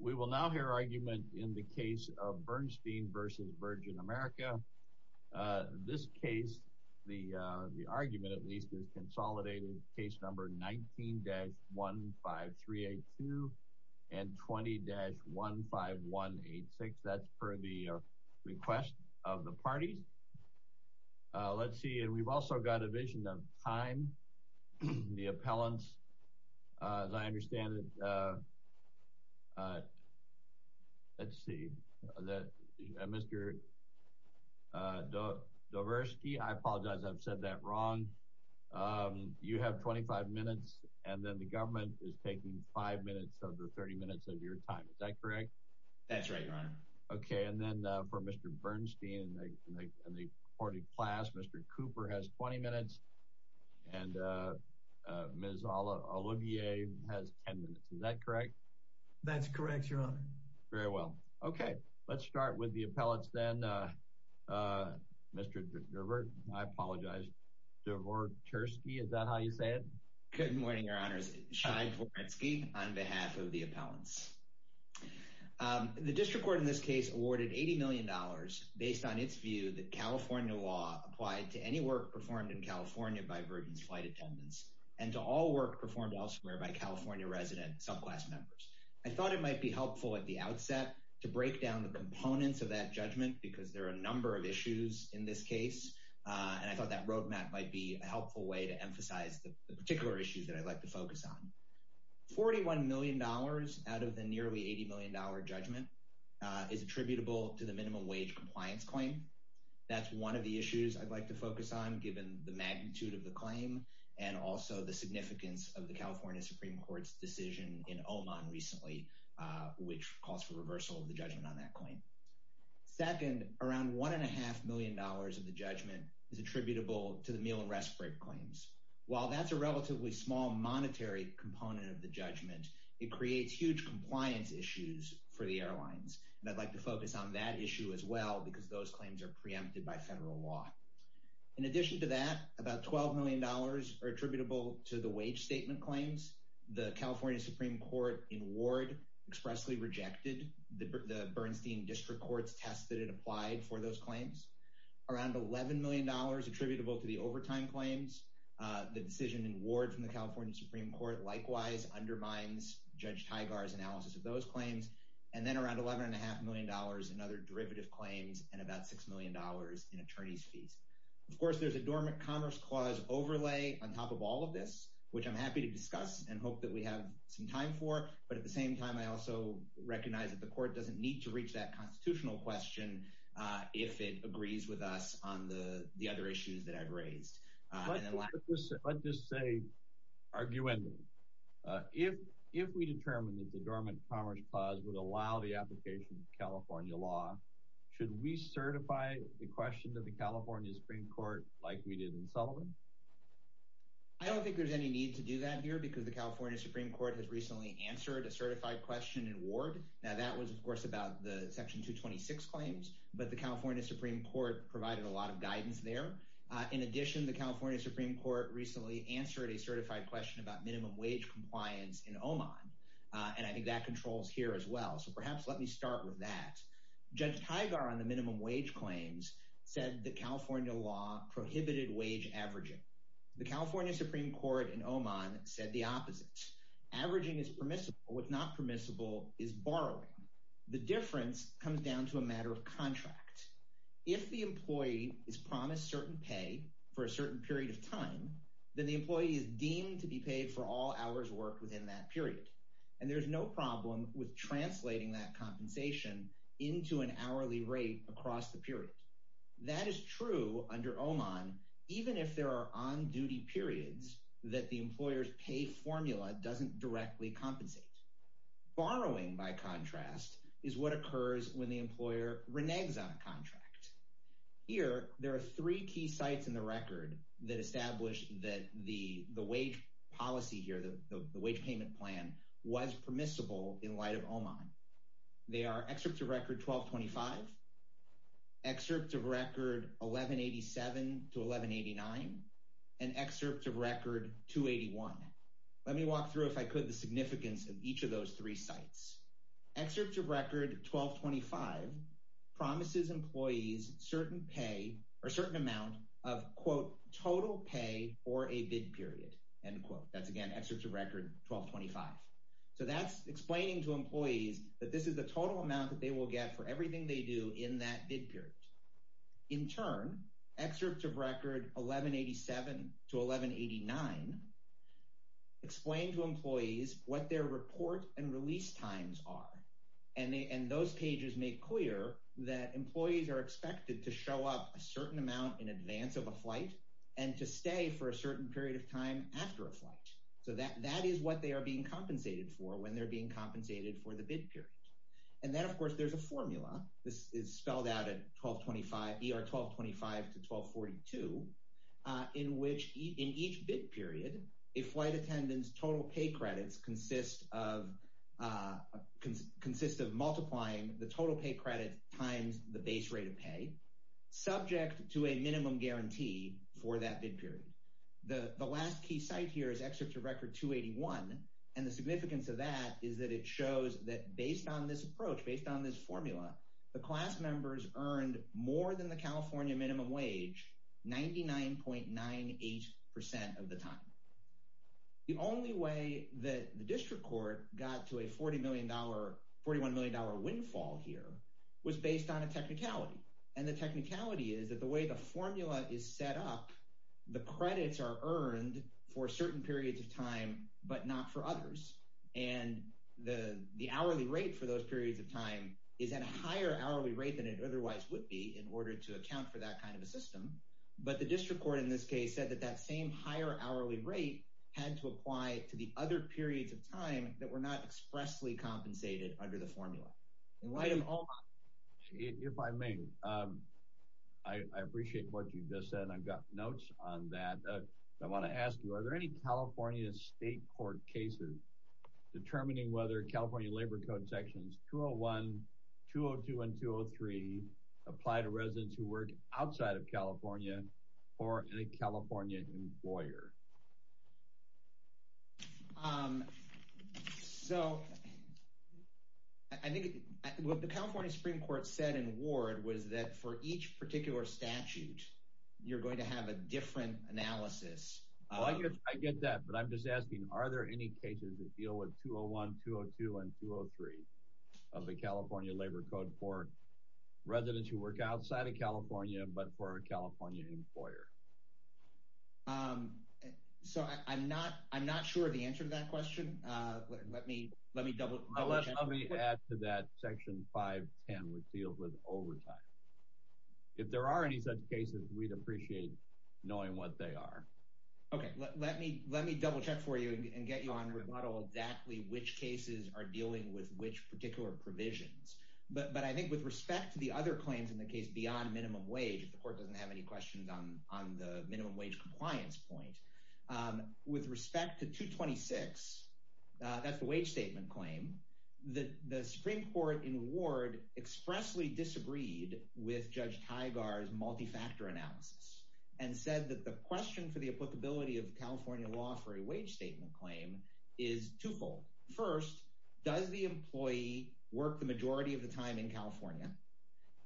We will now hear argument in the case of Bernstein v. Virgin America. This case, the argument at least, is consolidated case number 19-15382 and 20-15186. That's for the request of the parties. Let's see, and we've also got a vision of time. The appellants, as I understand it, let's see, Mr. Doversky, I apologize, I've said that wrong. You have 25 minutes, and then the government is taking 5 minutes over 30 minutes of your time. Is that correct? That's right, Your Honor. Okay, and then for Mr. Bernstein and the courted class, Mr. Cooper has 20 minutes, and Ms. Olivier has 10 minutes. Is that correct? That's correct, Your Honor. Very well. Okay, let's start with the appellants then. Mr. Doversky, I apologize, DeVore Tursky, is that how you say it? Good morning, Your Honor. It's Cheyne Tursky on behalf of the appellants. The district court in this case awarded $80 million based on its view that California law applied to any work performed in California by group and flight attendants, and to all work performed elsewhere by California resident subclass members. I thought it might be helpful at the outset to break down the components of that judgment, because there are a number of issues in this case, and I thought that roadmap might be a helpful way to emphasize the particular issues that I'd like to focus on. $41 million out of the nearly $80 million judgment is attributable to the minimum wage compliance claim. That's one of the issues I'd like to focus on, given the magnitude of the claim, and also the significance of the California Supreme Court's decision in Oman recently, which calls for reversal of the judgment on that claim. Second, around $1.5 million of the judgment is attributable to the meal and rest break claims. While that's a relatively small monetary component of the judgment, it creates huge compliance issues for the airlines, and I'd like to focus on that issue as well, because those claims are preempted by federal law. In addition to that, about $12 million are attributable to the wage statement claims. The California Supreme Court in Ward expressly rejected the Bernstein District Court's test that it applied for those claims. Around $11 million attributable to the overtime claims. The decision in Ward from the California Supreme Court likewise undermines Judge Taigar's analysis of those claims. And then around $11.5 million in other derivative claims, and about $6 million in attorney's fees. Of course, there's a Dormant Commerce Clause overlay on top of all of this, which I'm happy to discuss and hope that we have some time for. But at the same time, I also recognize that the Court doesn't need to reach that constitutional question if it agrees with us on the other issues that I've raised. Let's just say, arguably, if we determined that the Dormant Commerce Clause would allow the application of California law, should we certify the question to the California Supreme Court like we did in Sullivan? I don't think there's any need to do that here, because the California Supreme Court has recently answered a certified question in Ward. Now, that was, of course, about the Section 226 claims, but the California Supreme Court provided a lot of guidance there. In addition, the California Supreme Court recently answered a certified question about that. Judge Teigar on the minimum wage claims said that California law prohibited wage averaging. The California Supreme Court in Oman said the opposite. Averaging is permissible. What's not permissible is borrowing. The difference comes down to a matter of contract. If the employee is promised certain pay for a certain period of time, then the employee is deemed to be paid for all hours worked within that period. And there's no problem with translating that compensation into an hourly rate across the period. That is true under Oman, even if there are on-duty periods that the employer's pay formula doesn't directly compensate. Borrowing, by contrast, is what occurs when the employer reneges on a contract. Here, there are three key sites in the record that the wage payment plan was permissible in light of Oman. They are Excerpt of Record 1225, Excerpt of Record 1187 to 1189, and Excerpt of Record 281. Let me walk through, if I could, the significance of each of those three sites. Excerpt of Record 1225 promises employees certain amount of, quote, total pay for a bid period, end quote. That's, again, Excerpt of Record 1225. So that's explaining to employees that this is the total amount that they will get for everything they do in that bid period. In turn, Excerpts of Record 1187 to 1189 explain to employees what their report and release times are, and those pages make clear that employees are expected to show up a certain amount in advance of a flight and to stay for a certain period of time after a flight. So that is what they are being compensated for when they're being compensated for the bid period. And then, of course, there's a formula. This is spelled out at 1225, ER 1225 to 1242, in which in each bid period, a flight attendant's total pay credits consist of multiplying the total pay credit times the base rate of pay, subject to a minimum guarantee for that bid period. The last key site here is Excerpt of Record 281, and the significance of that is that it shows that based on this approach, based on this formula, the class members earned more than the California minimum wage 99.98 percent of the time. The only way that the district court got to a $40 million, $41 million windfall here was based on a technicality. And the technicality is that the way the formula is set up, the credits are earned for certain periods of time, but not for others. And the hourly rate for those periods of time is at a higher hourly rate than it otherwise would be in order to account for that kind of a system. But the district court in this case said that that same higher hourly rate had to apply to the other periods of time that were not expressly compensated under the formula. And why do all... If I may, I appreciate what you just said, and I've got notes on that. I want to ask you, are there any California state court cases determining whether California Labor Code Sections 201, 202, and 203 apply to residents who work outside of California or a California employer? So, I think what the California Supreme Court said in Ward was that for each particular statute, you're going to have a different analysis. Oh, I get that. But I'm just asking, are there any cases that deal with 201, 202, and 203 of the California Labor Code for residents who work outside of California, but for a California employer? So, I'm not sure of the answer to that question. Let me double check. I'll let somebody add to that Section 510, which deals with overtime. If there are any such cases, we'd appreciate knowing what they are. Okay. Let me double check for you and get you on the rebuttal exactly which cases are dealing with which particular provisions. But I think with respect to the other claims in the case beyond minimum wage, the court doesn't have any questions on the minimum wage compliance point. With respect to 226, that's the wage statement claim, the Supreme Court in Ward expressly disagreed with Judge Tygar's multi-factor analysis and said that the question for the applicability of California law for a wage statement claim is twofold. First, does the employee work the majority of the time in California?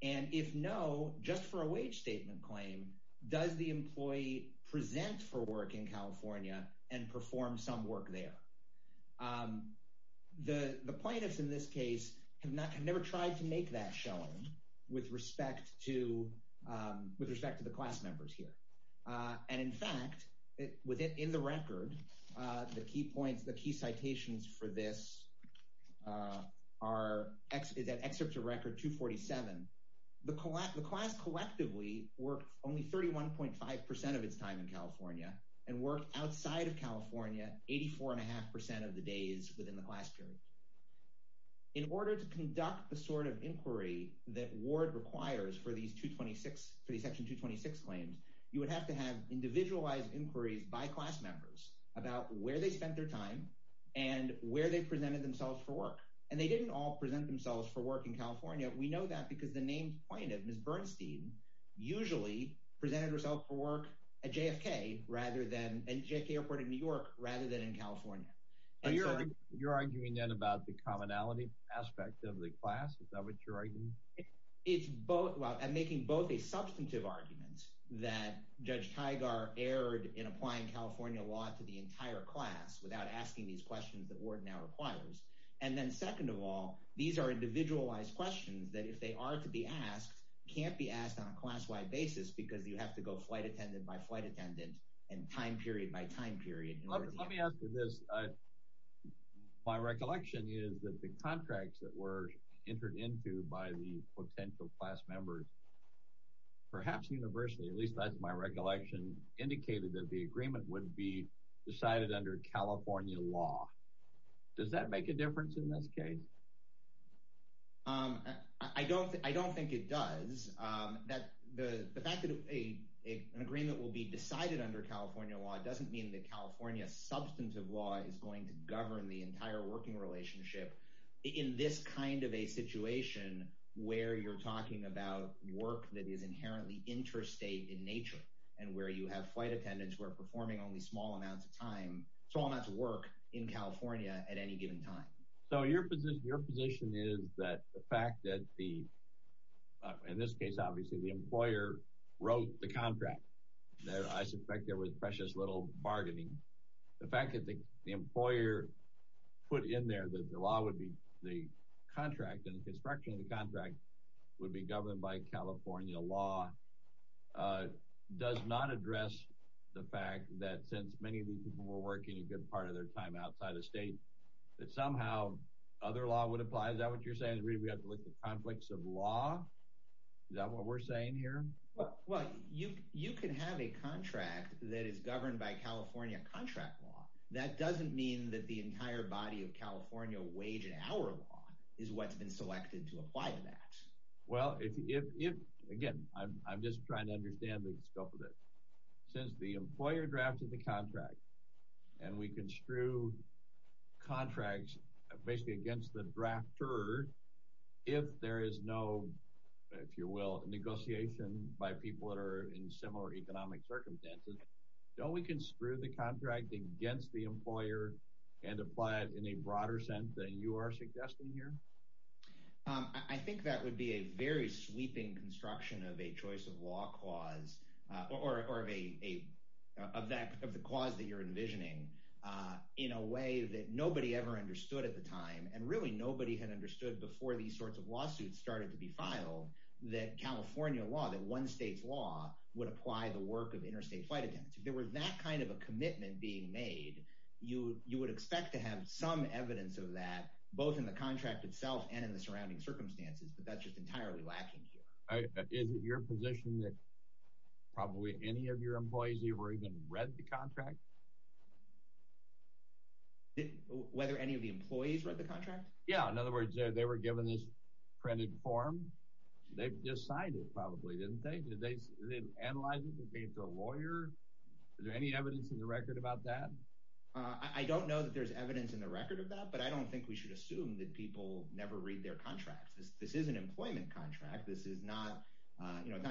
And if no, just for a wage statement claim, does the employee present for work in California and perform some work there? The plaintiffs in this case have never tried to make that shown with respect to the class members here. And in fact, within the record, the key citations for this are excerpts of record 247. The class collectively work only 31.5% of its time in California and work outside of California 84.5% of the days within the class period. In order to conduct the sort of inquiry that Ward requires for these section 226 claims, you would have to have individualized inquiries by class members about where they spent their time and where they presented themselves for work. And they didn't all present themselves for work in California. We know that because the names pointed, Ms. Bernstein usually presented herself for work at JFK, rather than at JFK Airport in New York, rather than in California. And you're arguing then about the commonality aspect of the class? Is that what you're arguing? It's both, well, I'm making both a substantive argument that Judge Tygar erred in applying California law to the entire class without asking these questions that Ward now requires. And then second of all, these are individualized questions that if they are to be asked, can't be asked on a class-wide basis because you have to go flight attendant by flight attendant and time period by time period. Let me answer this. My recollection is that the contracts that were entered into by the potential class members, perhaps universally, at least that's my assumption, would be decided under California law. Does that make a difference in this case? I don't think it does. The fact that an agreement will be decided under California law doesn't mean that California substantive law is going to govern the entire working relationship in this kind of a situation where you're talking about work that is inherently interstate in nature and where you have flight attendants who are performing only small amounts of time, small amounts of work in California at any given time. So your position is that the fact that the, in this case, obviously, the employer wrote the contract. I suspect there was precious little bargaining. The fact that the employer put in there that the law would be the contract and California law does not address the fact that since many of these people were working a good part of their time outside of state, that somehow other law would apply. Is that what you're saying, Reed? We have to look at conflicts of law? Is that what we're saying here? Well, you can have a contract that is governed by California contract law. That doesn't mean that the entire body of California wage and hour law is what's been selected to apply to that. Well, if, again, I'm just trying to understand the scope of it. Since the employer drafted the contract and we construe contracts basically against the drafter, if there is no, if you will, negotiation by people that are in similar economic circumstances, don't we construe the contract against the employer and apply it in a broader sense than you are suggesting here? I think that would be a very sweeping construction of a choice of law clause or of the clause that you're envisioning in a way that nobody ever understood at the time, and really nobody had understood before these sorts of lawsuits started to be filed, that California law, that one state's law, would apply the work of interstate flight events. If there was that kind of a commitment being made, you would expect to have some evidence of that, both in the contract itself and in the surrounding circumstances, but that's just entirely lacking here. All right, but is it your position that probably any of your employees even read the contract? Whether any of the employees read the contract? Yeah. In other words, they were given this printed form. They've decided probably, didn't they? Did they analyze it in the face of a lawyer? Is there any evidence in the record about that? I don't know that there's evidence in the record of that, but I don't think we should assume that people never read their contract. This is an employment contract. This is not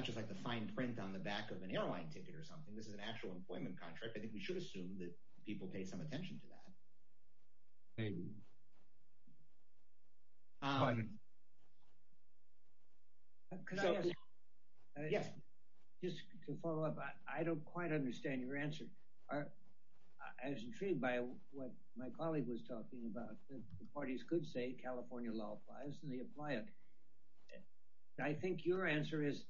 just like the fine print on the back of an airline ticket or something. This is an actual employment contract. I think we should assume that people pay some attention to that. I don't quite understand your answer. I was intrigued by what my colleague was talking about, that the parties could say California law applies and they apply it. I think your answer is,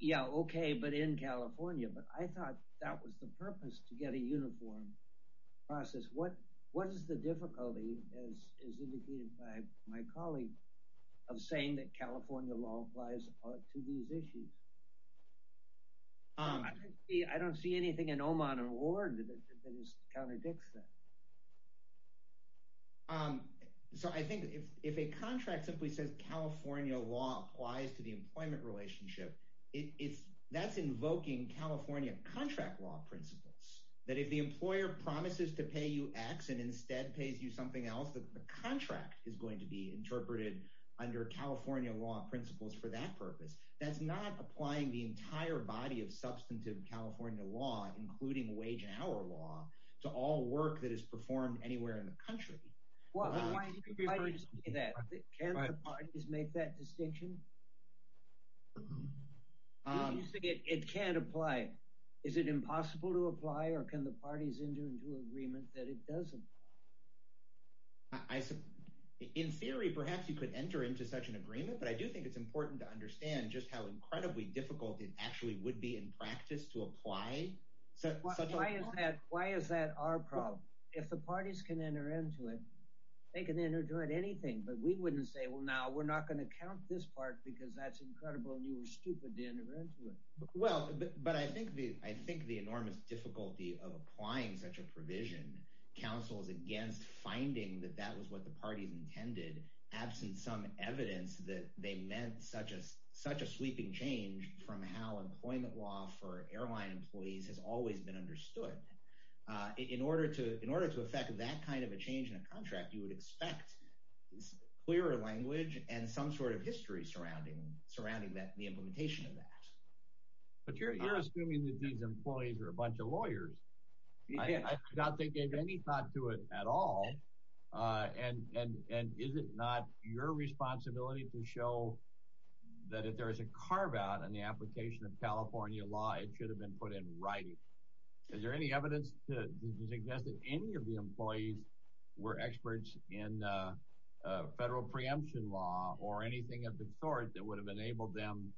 yeah, okay, but in California, but I thought that was the purpose to get a uniform process. What is the difficulty, as indicated by my colleague, of saying that California law applies to these issues? I don't see anything in Oman or Ward that is counterdicts that. I think if a contract simply says California law applies to the employment relationship, that's invoking California contract law principles, that if the employer promises to pay you X and instead pays you something else, that the contract is going to be interpreted under California law principles for that purpose. That's not applying the entire body of substantive California law, including wage and hour law, to all work that is performed anywhere in the country. Can't the parties make that distinction? It can't apply. Is it impossible to apply or can the parties enter into agreement that it doesn't? In theory, perhaps you could enter into such an agreement, but I do think it's important to understand just how incredibly difficult it actually would be in practice to apply Why is that our problem? If the parties can enter into it, they can enter into anything, but we wouldn't say, well, now we're not going to count this part because that's incredible and you were stupid to enter into it. Well, but I think the enormous difficulty of applying such a provision counsels against finding that that was what the party intended, absent some evidence that they meant such a sweeping change from how employment law for airline employees has always been understood. In order to affect that kind of a change in a contract, you would expect clearer language and some sort of history surrounding the implementation of that. But you're assuming that these employees are a bunch of lawyers. I doubt they gave any thought to it at all. And is it not your responsibility to show that if there's a carve out in the application of California law, it should have been put in writing. Is there any evidence to suggest that any of the employees were experts in federal preemption law or anything of the sort that would have enabled them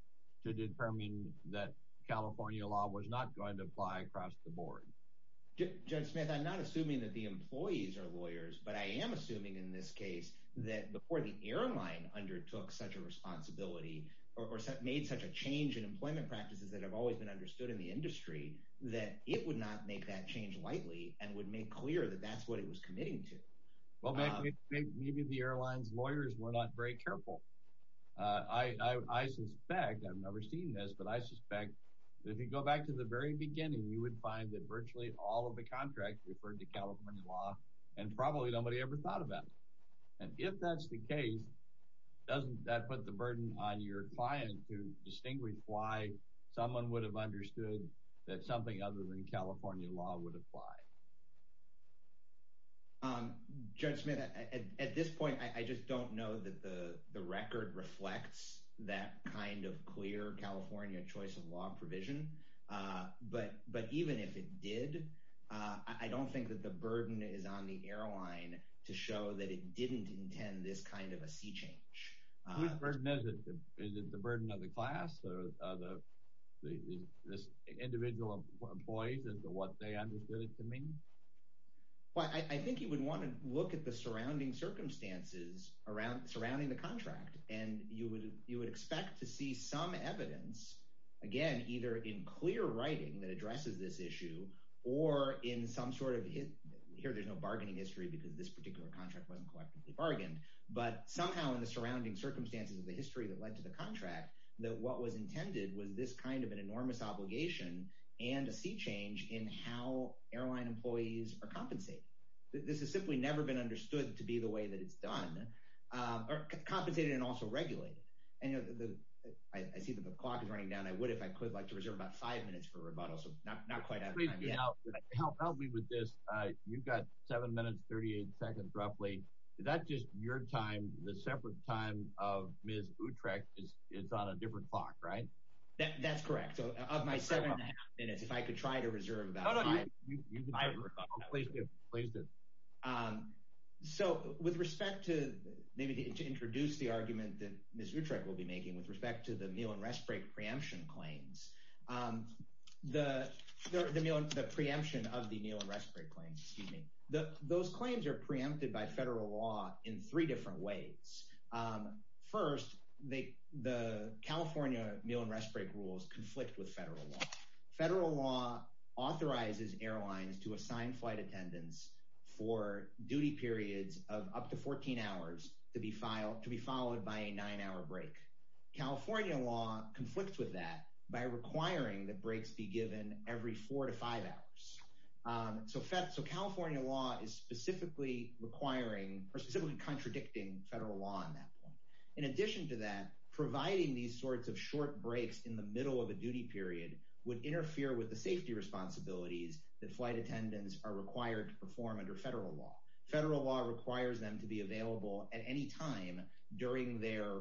to determine that California law was not going to apply across the board? Judge Smith, I'm not assuming that the employees are lawyers, but I am assuming in this change in employment practices that have always been understood in the industry, that it would not make that change lightly and would make clear that that's what it was committing to. Well, maybe the airline's lawyers were not very careful. I suspect, I've never seen this, but I suspect if you go back to the very beginning, you would find that virtually all of the contracts referred to California law and probably nobody ever thought of that. And if that's the case, doesn't that put the burden on your client to distinguish why someone would have understood that something other than California law would apply? Judge Smith, at this point, I just don't know that the record reflects that kind of clear California choice of law provision. But even if it did, I don't think that the burden is on the airline to show that it didn't intend this kind of a sea change. What burden is it? Is it the burden of the class or the individual employees as to what they understood it to mean? Well, I think you would want to look at the surrounding circumstances surrounding the contract. And you would expect to see some evidence, again, either in clear history because this particular contract wasn't collectively bargained, but somehow in the surrounding circumstances of the history that led to the contract, that what was intended was this kind of an enormous obligation and a sea change in how airline employees are compensated. This has simply never been understood to be the way that it's done, or compensated and also regulated. And I see the clock is running down. I would, if I could, like to reserve about five minutes for rebuttals. I'm not quite out of time. Please help me with this. You've got seven minutes, 38 seconds, roughly. Is that just your time, the separate time of Ms. Utrecht? It's on a different clock, right? That's correct. Of my seven and a half minutes, if I could try to reserve that time. Oh, no, you can. I'll place it. So, with respect to maybe to introduce the argument that Ms. Utrecht will be making with respect to the meal and rest break preemption claims, the preemption of the meal and rest break claims, those claims are preempted by federal law in three different ways. First, the California meal and rest break rules conflict with federal law. Federal law authorizes airlines to assign flight attendants for duty periods of up to 14 hours to be followed by a nine-hour break. California law conflicts with that by requiring that breaks be given every four to five hours. So, California law is specifically requiring or specifically contradicting federal law on that point. In addition to that, providing these sorts of short breaks in the middle of a duty period would interfere with the safety responsibilities that flight attendants are required to perform under federal law. Federal law requires them to be available at any time during their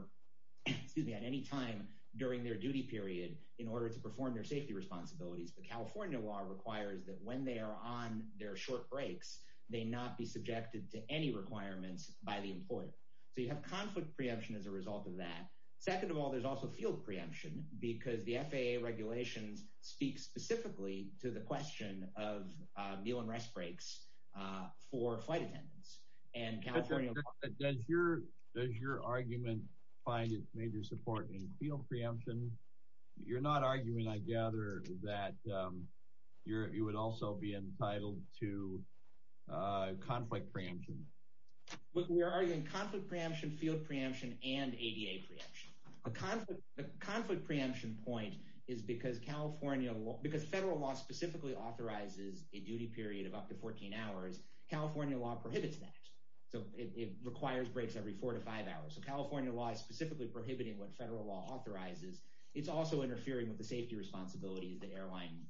duty period in order to perform their safety responsibilities. But California law requires that when they are on their short breaks, they not be subjected to any requirements by the employer. So, you have conflict preemption as a result of that. Second of all, there's also field preemption because the FAA regulations speak specifically to the question of meal and rest breaks for flight attendants. Does your argument find its major support in field preemption? You're not arguing, I gather, that you would also be entitled to conflict preemption. We're arguing conflict preemption because federal law specifically authorizes a duty period of up to 14 hours. California law prohibits that. So, it requires breaks every four to five hours. So, California law is specifically prohibiting what federal law authorizes. It's also interfering with the safety responsibilities that airline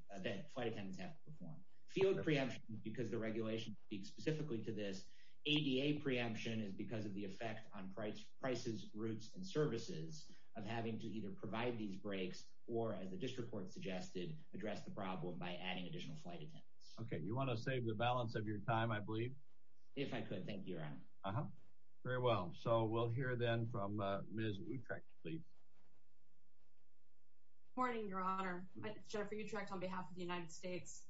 flight attendants have to perform. Field preemption is because the regulations speak specifically to this. ADA preemption is because of the effect on prices, routes, and services of having to either provide these breaks or, as the district court suggested, address the problem by adding additional flight attendants. Okay. You want to save the balance of your time, I believe? If I could, thank you, Your Honor. Uh-huh. Very well. So, we'll hear then from Ms. Utrecht, please. Good morning, Your Honor. My name is Jennifer Utrecht on behalf of the United States.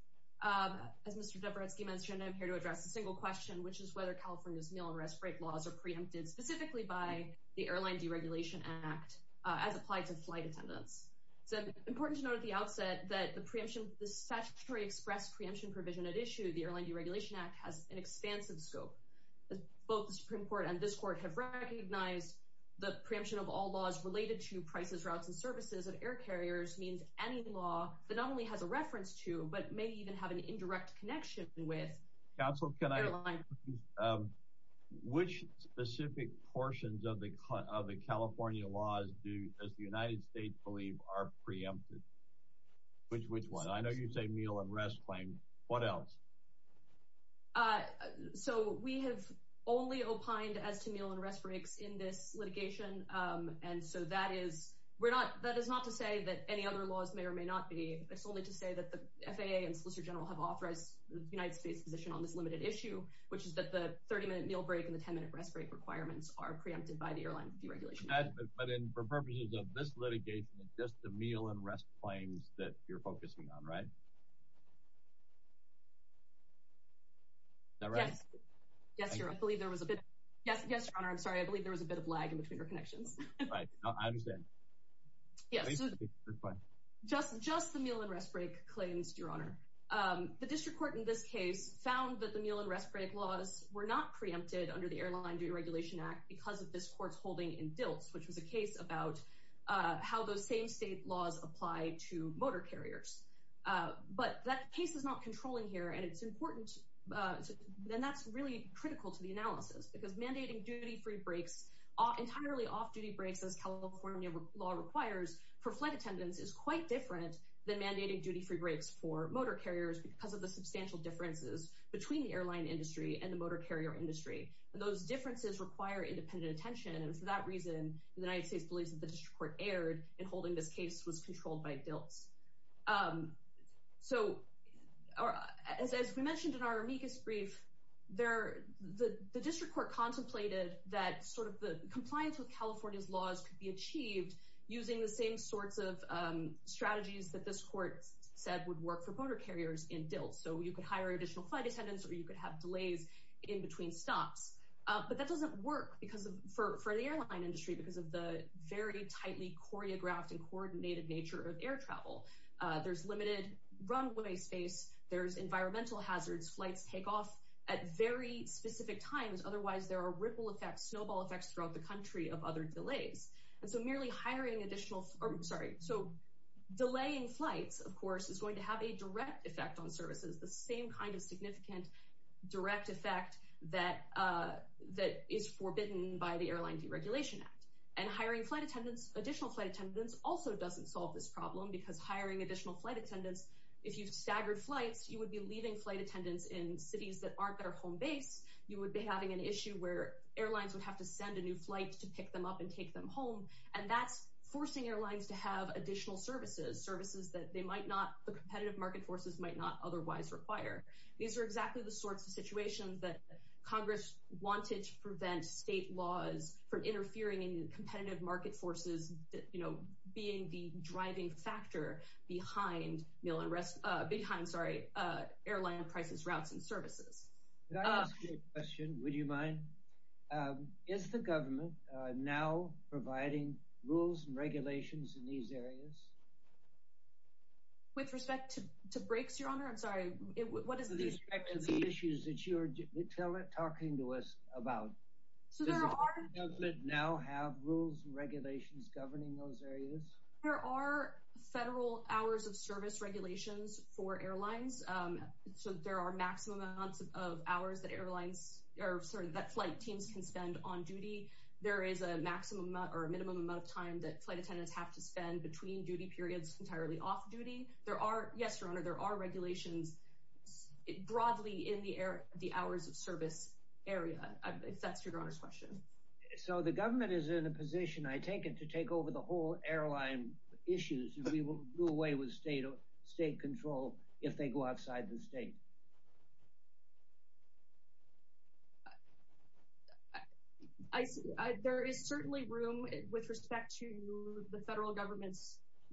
As Mr. Zebrowski mentioned, I'm here to address a single question, which is whether California's mail and rest break laws are preempted specifically by the Airline Deregulation Act as applied to flight attendants. It's important to note at the outset that the statutory express preemption provision at issue, the Airline Deregulation Act, has an expansive scope. Both the Supreme Court and this court have recognized the preemption of all laws related to prices, routes, and services of air carriers means any law that not only has a reference to but may even have an indirect connection with airlines. Counsel, can I ask, which specific portions of the California laws do, as the United States believes, are preempted? Which ones? I know you say meal and rest claims. What else? So, we have only opined as to meal and rest breaks in this litigation. And so, that is, we're not, that is not to say that any other laws may or may not solely to say that the FAA and Solicitor General have authorized the United States position on this limited issue, which is that the 30-minute meal break and the 10-minute rest break requirements are preempted by the Airline Deregulation Act. But then, for purposes of this litigation, it's just the meal and rest claims that you're focusing on, right? Is that right? Yes. Yes, Your Honor, I'm sorry. I believe there was a bit of lag in the speaker connection. I understand. Yeah. Just the meal and rest break claims, Your Honor. The district court in this case found that the meal and rest break laws were not preempted under the Airline Deregulation Act because of this court's holding in DILT, which was a case about how those same state laws apply to motor carriers. But that case is not controlling here, and it's important, then that's really critical to the analysis because mandating duty-free breaks, entirely off-duty breaks, as California law requires for flight attendants is quite different than mandating duty-free breaks for motor carriers because of the substantial differences between the airline industry and the motor carrier industry. Those differences require independent attention, and for that reason, the United States believes that the district court in holding this case was controlled by DILT. So as mentioned in our amicus brief, the district court contemplated that sort of the compliance with California's laws could be achieved using the same sorts of strategies that this court said would work for motor carriers in DILT. So you could hire additional flight attendants, or you could have delays in between stops, but that doesn't work for the airline industry because of the very tightly choreographed and coordinated nature of air travel. There's limited runway space. There's environmental hazards. Flights take off at very specific times. Otherwise, there are ripple effects, snowball effects throughout the country of other delays. So delaying flights, of course, is going to have a direct effect on services, the same kind of significant direct effect that is forbidden by the Airline Deregulation Act. And hiring additional flight attendants also doesn't solve this problem because hiring additional flight attendants, if you staggered flights, you would be leaving flight attendants in cities that aren't their home base. You would be having an issue where airlines would have to send a new flight to pick them up and take them home, and that's forcing airlines to have additional services, services that the competitive market forces might not otherwise require. These are exactly the sorts of situations that Congress wanted to prevent state laws from interfering in competitive market forces, being the driving factor behind airline prices, routes, and services. Can I ask you a question? Would you mind? Is the government now providing rules and regulations in these areas? With respect to breaks, Your Honor, I'm sorry. What is the- With respect to the issues that you are talking to us about, does the government now have rules and regulations governing those areas? There are federal hours of service regulations for airlines. So there are maximum amounts of hours that airlines, or that flight team can spend on duty. There is a maximum amount, that flight attendants have to spend between duty periods entirely off duty. Yes, Your Honor, there are regulations broadly in the hours of service area, if that's Your Honor's question. So the government is in a position, I take it, to take over the whole airline issues. We will do away with state control if they go outside the state. I- I- There is certainly room with respect to the federal government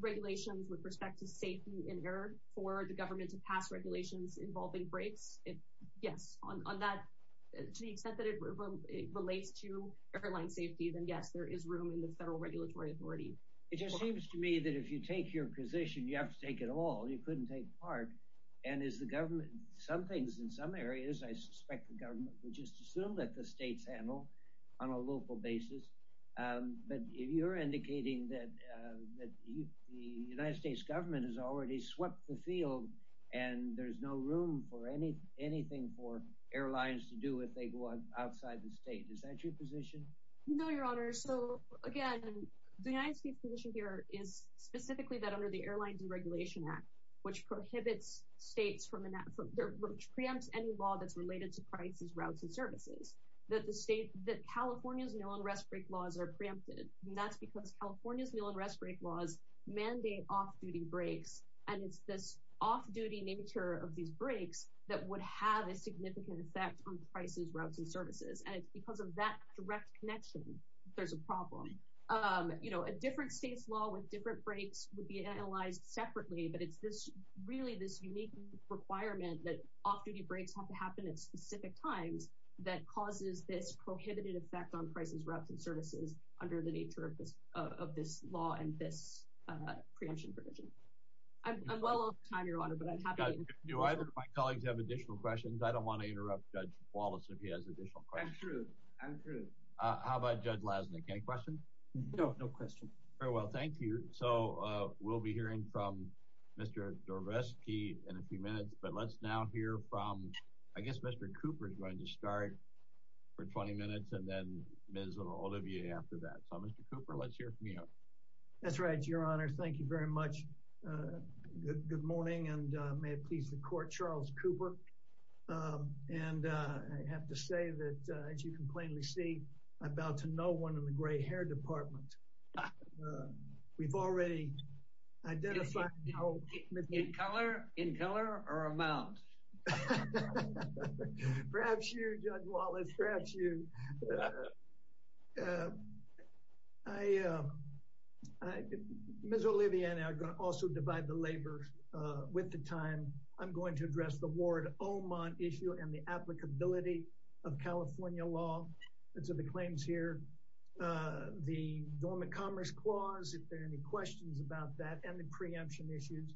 regulations with respect to safety and air for the government to pass regulations involving breaks. Yes, on that, to the extent that it relates to airline safety, then yes, there is room in the federal regulatory authority. It just seems to me that if you take your position, you have to take it all. You couldn't take part. And as the government, some things in some areas, I suspect the government would just assume that the states handle on a local basis. But you're indicating that the United States government has already swept the field and there's no room for anything for airlines to do if they go outside the state. Is that your position? No, Your Honor. So again, the United States position here is specifically that under the Airline Deregulation Act, which prohibits states from enact- which preempts any law that's related to prices, routes, and services, that the state- that California's meal and rest break laws are preempted. And that's because California's meal and rest break laws mandate off-duty breaks. And it's this off-duty nature of these breaks that would have a significant effect on prices, routes, and services. And it's because of that direct connection that there's a problem. You know, a different state's law with different breaks would be analyzed separately, but it's just really this unique requirement that off-duty breaks have to happen at specific times that causes this prohibited effect on prices, routes, and services under the nature of this law and this preemption provision. I'm well off time, Your Honor, but I'm happy- Do either of my colleagues have additional questions? I don't want to interrupt Judge Wallace if he has additional questions. I'm through. I'm through. How about Judge Lasnik? Any questions? No. No questions. Very well. Thank you. So, we'll be hearing from Mr. Zorbovsky in a few minutes, but let's now hear from- I guess Mr. Cooper is going to start for 20 minutes, and then Ms. and all of you after that. So, Mr. Cooper, let's hear from you now. That's right, Your Honor. Thank you very much. Good morning, and may it please the Court, Charles Cooper. And I have to say that, as you can plainly see, I'm about to know one in the gray hair department. We've already identified- In color? In color or a mouse? Perhaps you, Judge Wallace. Perhaps you. Ms. Olivia and I are going to also divide the labor with the time. I'm going to address the Ward-Omon issue and the applicability of California law. Those are the claims here. The Dormant Commerce Clause, if there are any questions about that, and the preemption issues.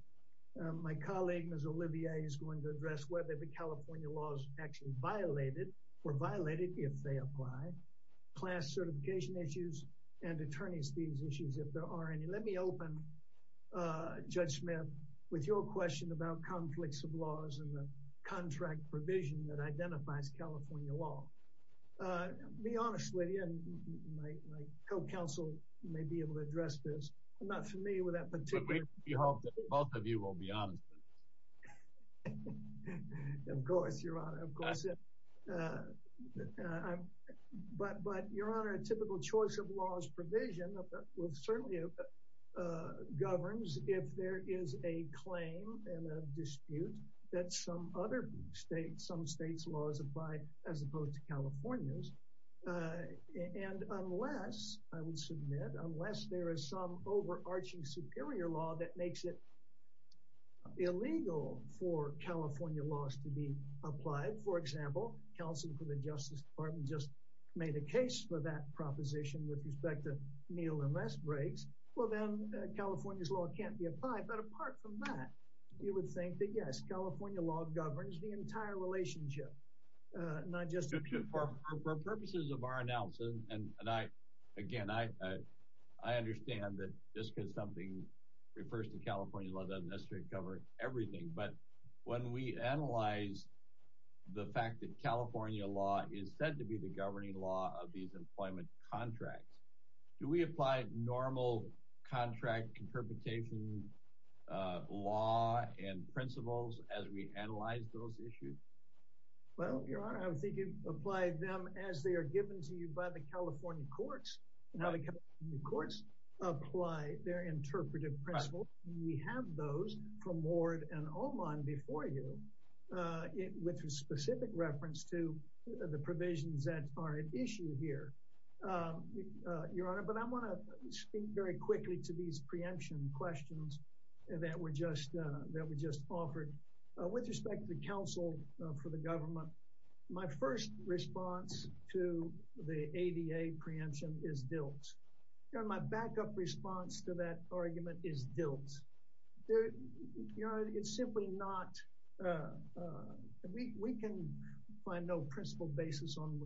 My colleague, Ms. Olivia, is going to address whether the California law is actually or violated if they apply. Class certification issues and attorney's fees issues, if there are any. Let me open, Judge Smith, with your question about conflicts of laws and the contract provision that identifies California law. Be honest with you, and my co-counsel may be able to address this. I'm not familiar with that particular- Both of you will be honest. Of course, Your Honor, of course. But, Your Honor, a typical choice of laws provision certainly governs if there is a claim and a dispute that some other state, some state's laws apply as opposed to California's. Unless, I will submit, unless there is some overarching superior law that makes it illegal for California laws to be applied. For example, counsel from the Justice Department just made a case for that proposition with respect to meal and rest breaks. Well, then California's law can't be applied. But apart from that, you would think that, yes, California law governs the entire relationship, not just- For purposes of our announcement, and I, again, I understand that just because something refers to California law doesn't necessarily cover everything. But when we analyze the fact that California law is said to be the governing law of these employment contracts, do we apply normal contract interpretation law and principles as we analyze those issues? Well, Your Honor, I would think you'd apply them as they are given to you by the California courts, and how the California courts apply their interpretive principles. We have those from Ward and Oman before you, with a specific reference to the provisions that are at issue here, Your Honor. But I want to speak very quickly to these preemption questions that were just, that were just offered. With respect to counsel for the government, my first response to the ADA preemption is built. Your Honor, my backup response to that argument is built. Your Honor, it's simply not, we can find no principle basis on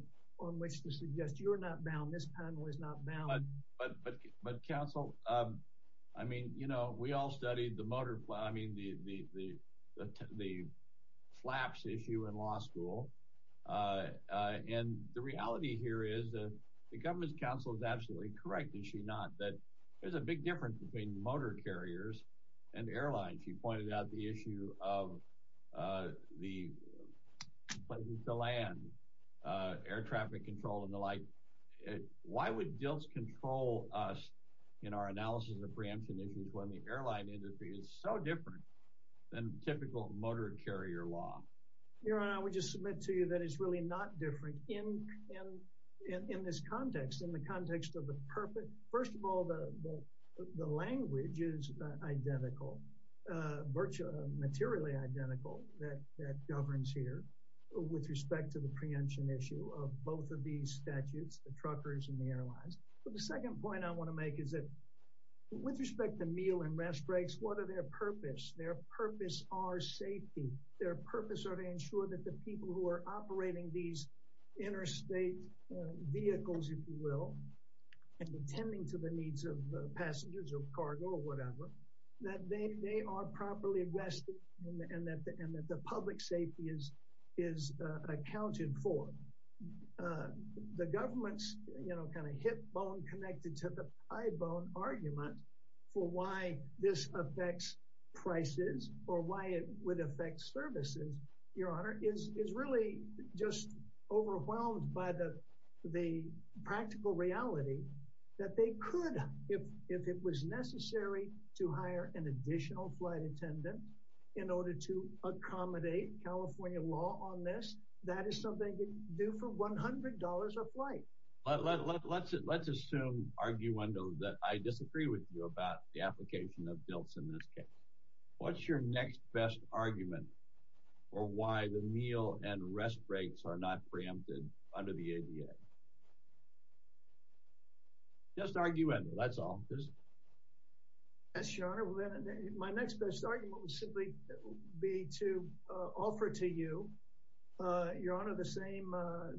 which to suggest you're not bound, this panel is not bound. But counsel, I mean, you know, we all studied the motor, I mean, the flaps issue in law school. And the reality here is that the governor's counsel is absolutely correct, is she not, that there's a big difference between motor carriers and airlines. She pointed out the issue of the land, air traffic control, and the like. Why would built control us in our analysis of preemption issues when the airline industry is so different than typical motor carrier law? Your Honor, I would just submit to you that it's really not different in this context, in the context of the perfect, first of all, the language is identical, virtually, materially identical that governs here, with respect to the preemption issue of both of these statutes, the truckers and the airlines. But the second point I want to make is that with respect to meal and rest breaks, what are their purpose, their purpose are safety, their purpose are to people who are operating these interstate vehicles, if you will, and attending to the needs of passengers or cargo or whatever, that they are properly rested, and that the public safety is, is accounted for. The government's, you know, kind of hip bone connected to the argument for why this affects prices, or why it would affect services, Your Honor, is really just overwhelmed by the, the practical reality that they could, if it was necessary to hire an additional flight attendant, in order to accommodate California law on this, that is something they could do for $100 a flight. Let's assume, arguendo, that I disagree with you about the application of DILTS in this case. What's your next best argument for why the meal and rest breaks are not preempted under the ADA? Just arguendo, that's all. Yes, Your Honor, my next best argument would simply be to offer to you, Your Honor, the same,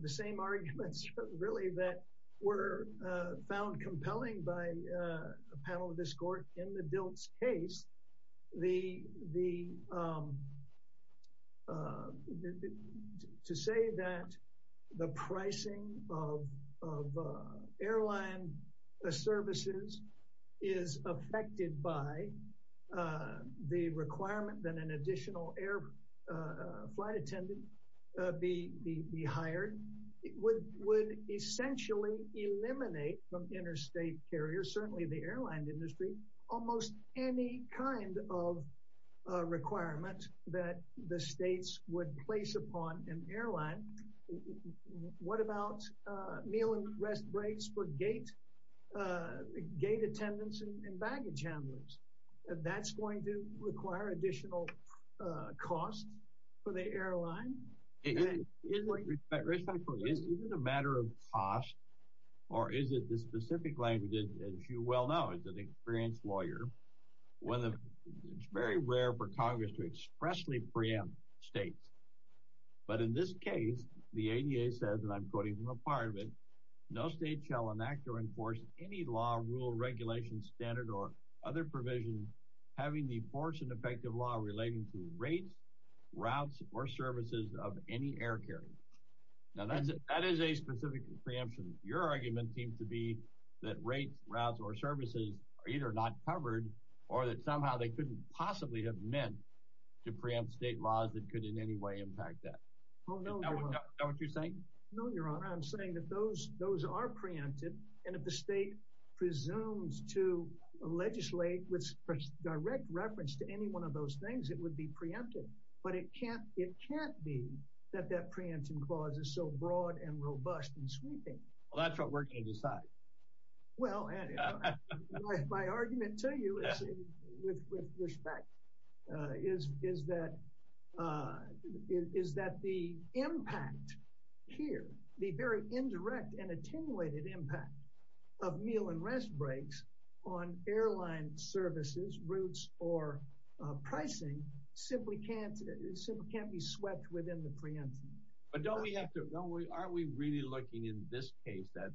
the same arguments, really, that were found compelling by a panel of this court in the DILTS case. The, the, to say that the pricing of airline services is affected by the requirement that an additional air flight attendant be, be hired would, would essentially eliminate from interstate carriers, certainly the airline industry, almost any kind of requirements that the states would place upon an airline. What about meal and rest breaks for gate, gate attendants and baggage handlers? That's going to require additional cost for the airline? Respectfully, is it a matter of cost, or is it the specific language, as you well know, as an experienced lawyer, when it's very rare for Congress to expressly preempt states. But in this case, the ADA says, and I'm quoting from a part of it, no state shall enact or enforce any law, rule, regulation, standard, or other provision, having the force and effective law relating to rates, routes, or services of any air carrier. Now, that is a specific preemption. Your argument seems to be that rates, routes, or services are either not covered, or that somehow they couldn't possibly have meant to preempt state laws that could in any way impact that. Oh, no, Your Honor. Is that what you're saying? No, Your Honor, I'm saying that those are preempted, and if the state presumes to legislate with direct reference to any one of those things, it would be preempted. But it can't be that that preemption clause is so broad and robust and sweeping. Well, that's what we're going to decide. Well, and my argument to you with respect is that the impact here, the very indirect and attenuated impact of meal and rest breaks on airline services, routes, or pricing simply can't be swept within the preemption. But don't we have to – don't we – are we really looking in this case at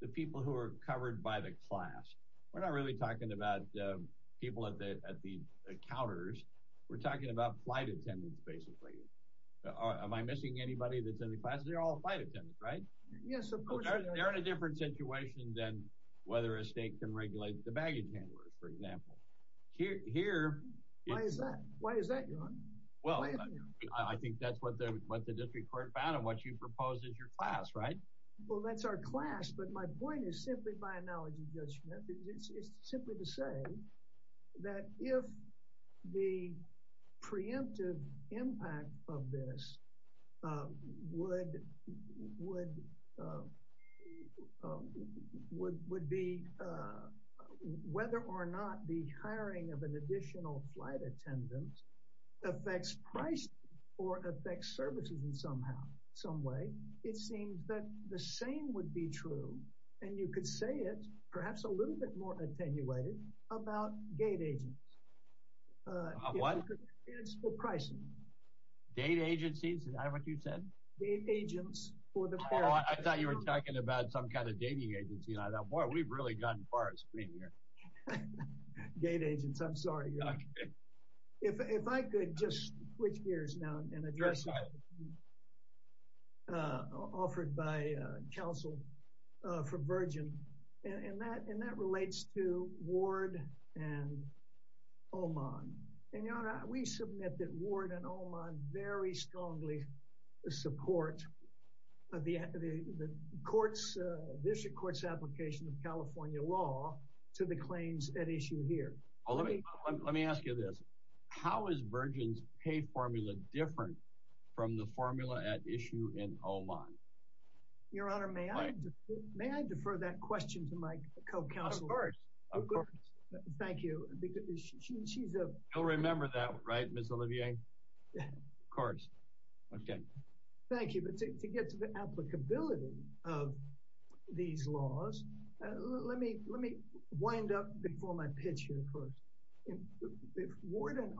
the people who are covered by the class? We're not really talking about people at the counters. We're talking about flight attendants, basically. Am I missing anybody that's in the class? They're all flight attendants, right? Yes, of course. They're in a different situation than whether a state can regulate the baggage handler, for example. Here – Why is that? Why is that, Your Honor? Well, I think that's what the district court found and what you proposed as your class, right? Well, that's our class, but my point is simply by analogy, Judge Schmidt. It's simply to say that if the preemptive impact of this would be whether or not the hiring of an additional flight attendant affects pricing or affects services in some way, it seems that the same would be true – and you could say it, perhaps a little bit more attenuated – about gate agents. What? If you could – and it's for pricing. Gate agencies? Is that what you said? Gate agents for the – Oh, I thought you were talking about some kind of dating agency, and I thought, boy, we've really gotten far at screening here. Gate agents, I'm sorry. If I could just switch gears now and address offered by counsel for Virgin, and that relates to Ward and Oman. And, Your Honor, we submit that Ward and Oman very strongly support the district court's application of California law to the claims at issue here. Well, let me ask you this. How is Virgin's paid formula different from the formula at issue in Oman? Your Honor, may I defer that question to my co-counsel? Of course. Of course. Thank you. She's a – Of course. Okay. Thank you. But to get to the applicability of these laws, let me wind up before my pitch here first. Ward and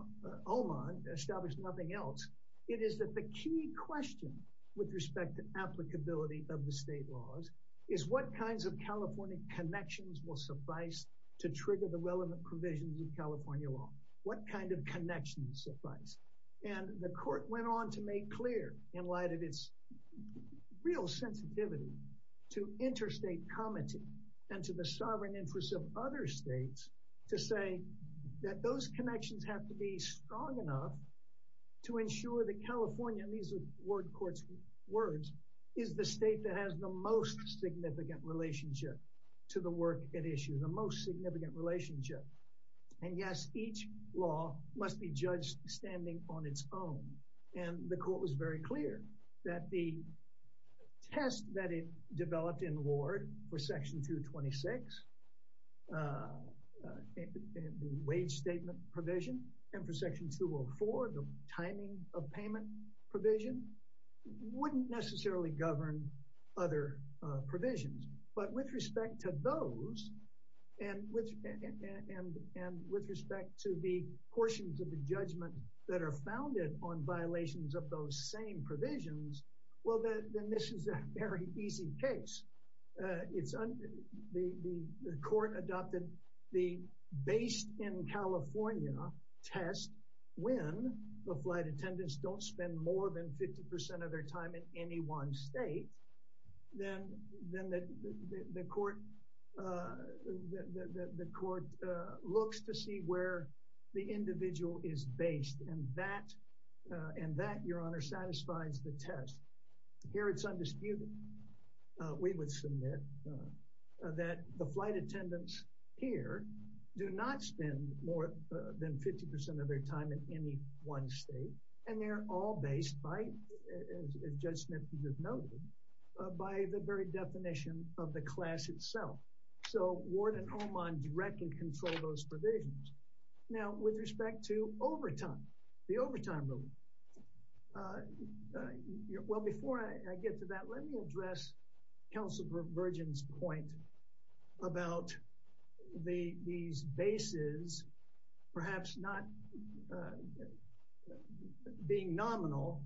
Oman established nothing else. It is that the key question with respect to applicability of the state laws is what kinds of California connections will suffice to trigger the in light of its real sensitivity to interstate commenting and to the sovereign interest of other states to say that those connections have to be strong enough to ensure that California, in these Ward court's words, is the state that has the most significant relationship to the work at issue, the most significant relationship. And, yes, each law must be – the court was very clear that the test that it developed in Ward for Section 226, the wage statement provision, and for Section 204, the timing of payment provision, wouldn't necessarily govern other provisions. But with respect to those and with respect to the portions of the judgment that are founded on violations of those same provisions, well, then this is a very easy case. It's – the court adopted the base in California test when the flight attendants don't spend more than 50 percent of their time in any one state. Then the court looks to see where the individual is based. And that, Your Honor, satisfies the test. Here it's undisputed, we would submit, that the flight attendants here do not spend more than 50 percent of their time in any one state. And they're all based by, as Judge Smith just noted, by the very definition of the class itself. So, Ward and Oman directly control those provisions. Now, with respect to overtime, the overtime rule, well, before I get to that, let me address Counselor Bergen's point about these bases perhaps not being nominal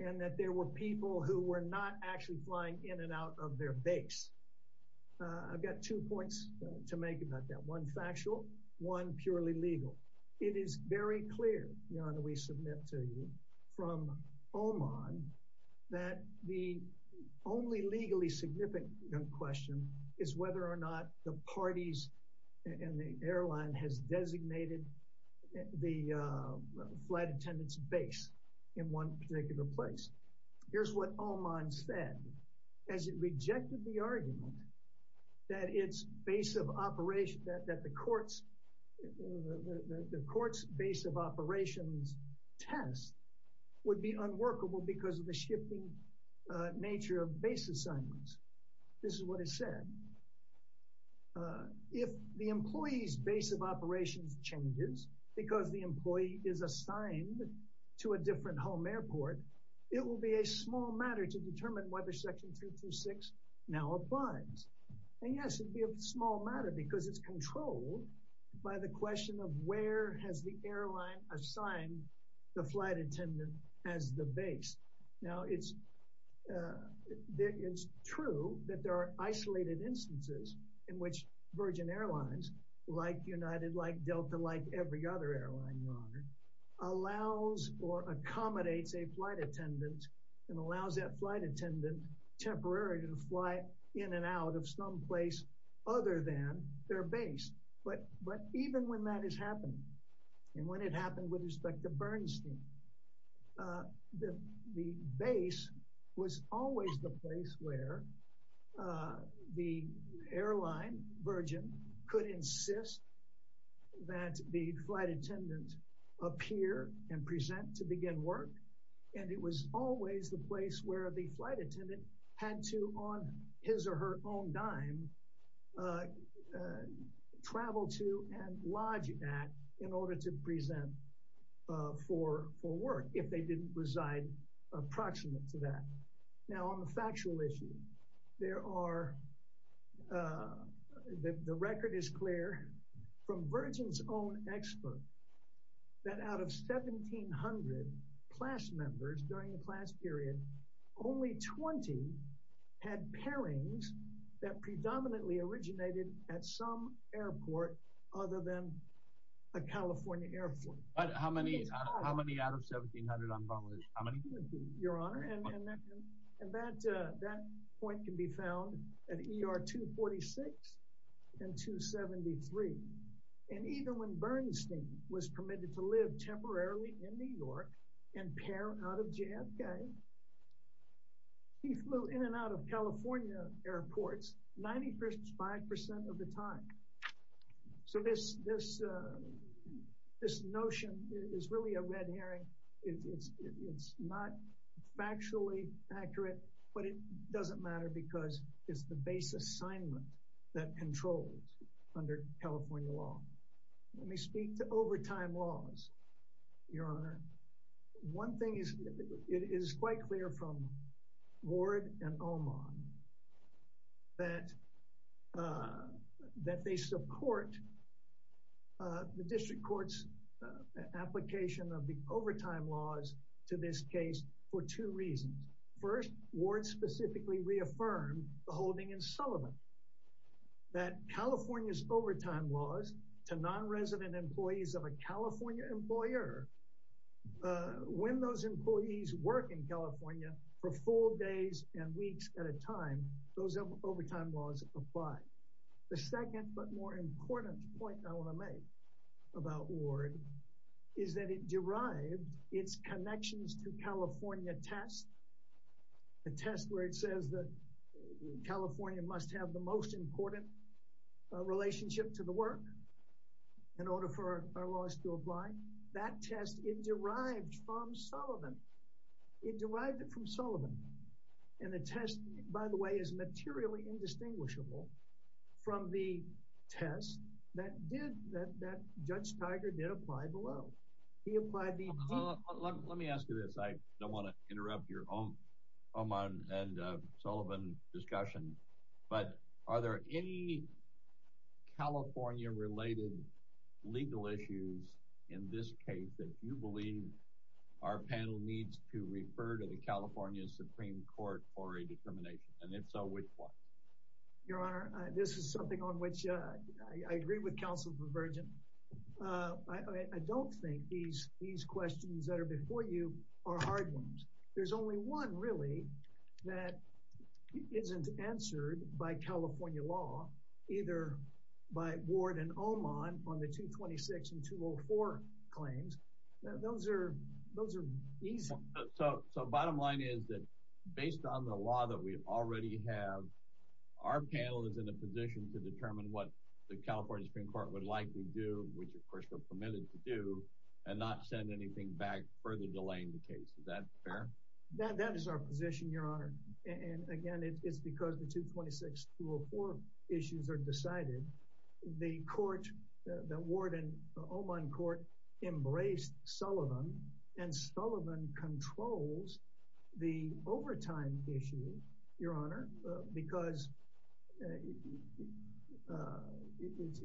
and that there were people who were not actually flying in and out of their base. I've got two points to make about that, one factual, one purely legal. It is very clear, Your Honor, we submit to you from Oman that the only legally significant question is whether or not the parties and the airline has designated the flight attendant's base in one particular place. Here's what Oman said, as it rejected the argument that the court's base of operations test would be unworkable because of the shifting nature of base assignments. This is what it said. If the employee's base of operations changes because the employee is assigned to a different home airport, it will be a small matter to determine whether Section 236 now applies. And yes, it will be a small matter because it's controlled by the question of where has the airline assigned the flight attendant as the base. Now, it's true that there are isolated instances in which Virgin Airlines, like United, like Delta, like every other airline, Your Honor, allows or accommodates a flight attendant and allows that flight attendant temporarily to fly in and out of some place other than their base. But even when that is happening, and when it happened with respect to Bernstein, the base was always the place where the airline, Virgin, could insist that the flight attendant appear and present to begin work. And it was always the place where the flight attendant had to, on his or her own dime, travel to and lodge at in order to present for work if they didn't reside approximate to that. Now, on the factual issue, there are, the record is clear from Virgin's own textbook, that out of 1,700 class members during the class period, only 20 had pairings that predominantly originated at some airport other than a California airport. But how many, how many out of 1,700? Your Honor, and that point can be found at ER 246 and 273. And even when Bernstein was permitted to live temporarily in New York and pair out of JFK, he flew in and out of California airports 95% of the time. So this notion is really a red herring. It's not factually accurate, but it doesn't matter because it's the base assignment that controls under California law. Let me speak to overtime laws, Your Honor. One thing is, it is quite clear from Ward and Omon that they support the district court's application of the overtime laws to this case for two reasons. First, Ward specifically reaffirmed the holding in Sullivan that California's overtime laws to non-resident employees of a California employer, when those employees work in California for four days and weeks at a time, those overtime laws apply. The second but more important point I want to make about Ward is that it derived its connections to California test, a test where it says that California must have the most important relationship to the work in order for our laws to apply. That test, it derived from Sullivan. It derived it from Sullivan. And the test, by the way, is materially indistinguishable from the test that Judge Tiger did apply below. He applied the... Let me ask you this. I don't want to interrupt your Omon and Sullivan discussion, but are there any California-related legal issues in this case that you believe our panel needs to refer to the California Supreme Court for a determination? And if so, which one? Your Honor, this is something on which I agree with counsel Pervergent. I don't think these questions that are before you are hard ones. There's only one, really, that isn't answered by California law, either by Ward and Omon on the 226 and 204 claims. Those are easy. So bottom line is that based on the law that we already have, our panel is in a position to determine what the California Supreme Court would like to do, which, of course, we're permitted to do, and not send anything back further delaying the case. That is our position, Your Honor. And again, it's because the 226-204 issues are decided. The court, the Ward and Omon court embraced Sullivan, and Sullivan controls the overtime issue, Your Honor, because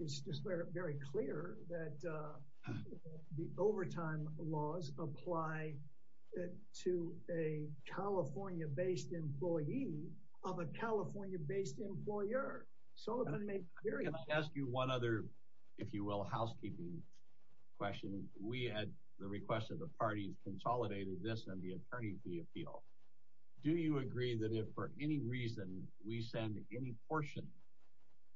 it's just very clear that the overtime laws apply to a California-based employee of a California-based employer. Sullivan makes clear... Can I ask you one other, if you will, housekeeping question? We had the request of the party consolidated this in the attorney fee appeal. Do you agree that if for any reason we send any portion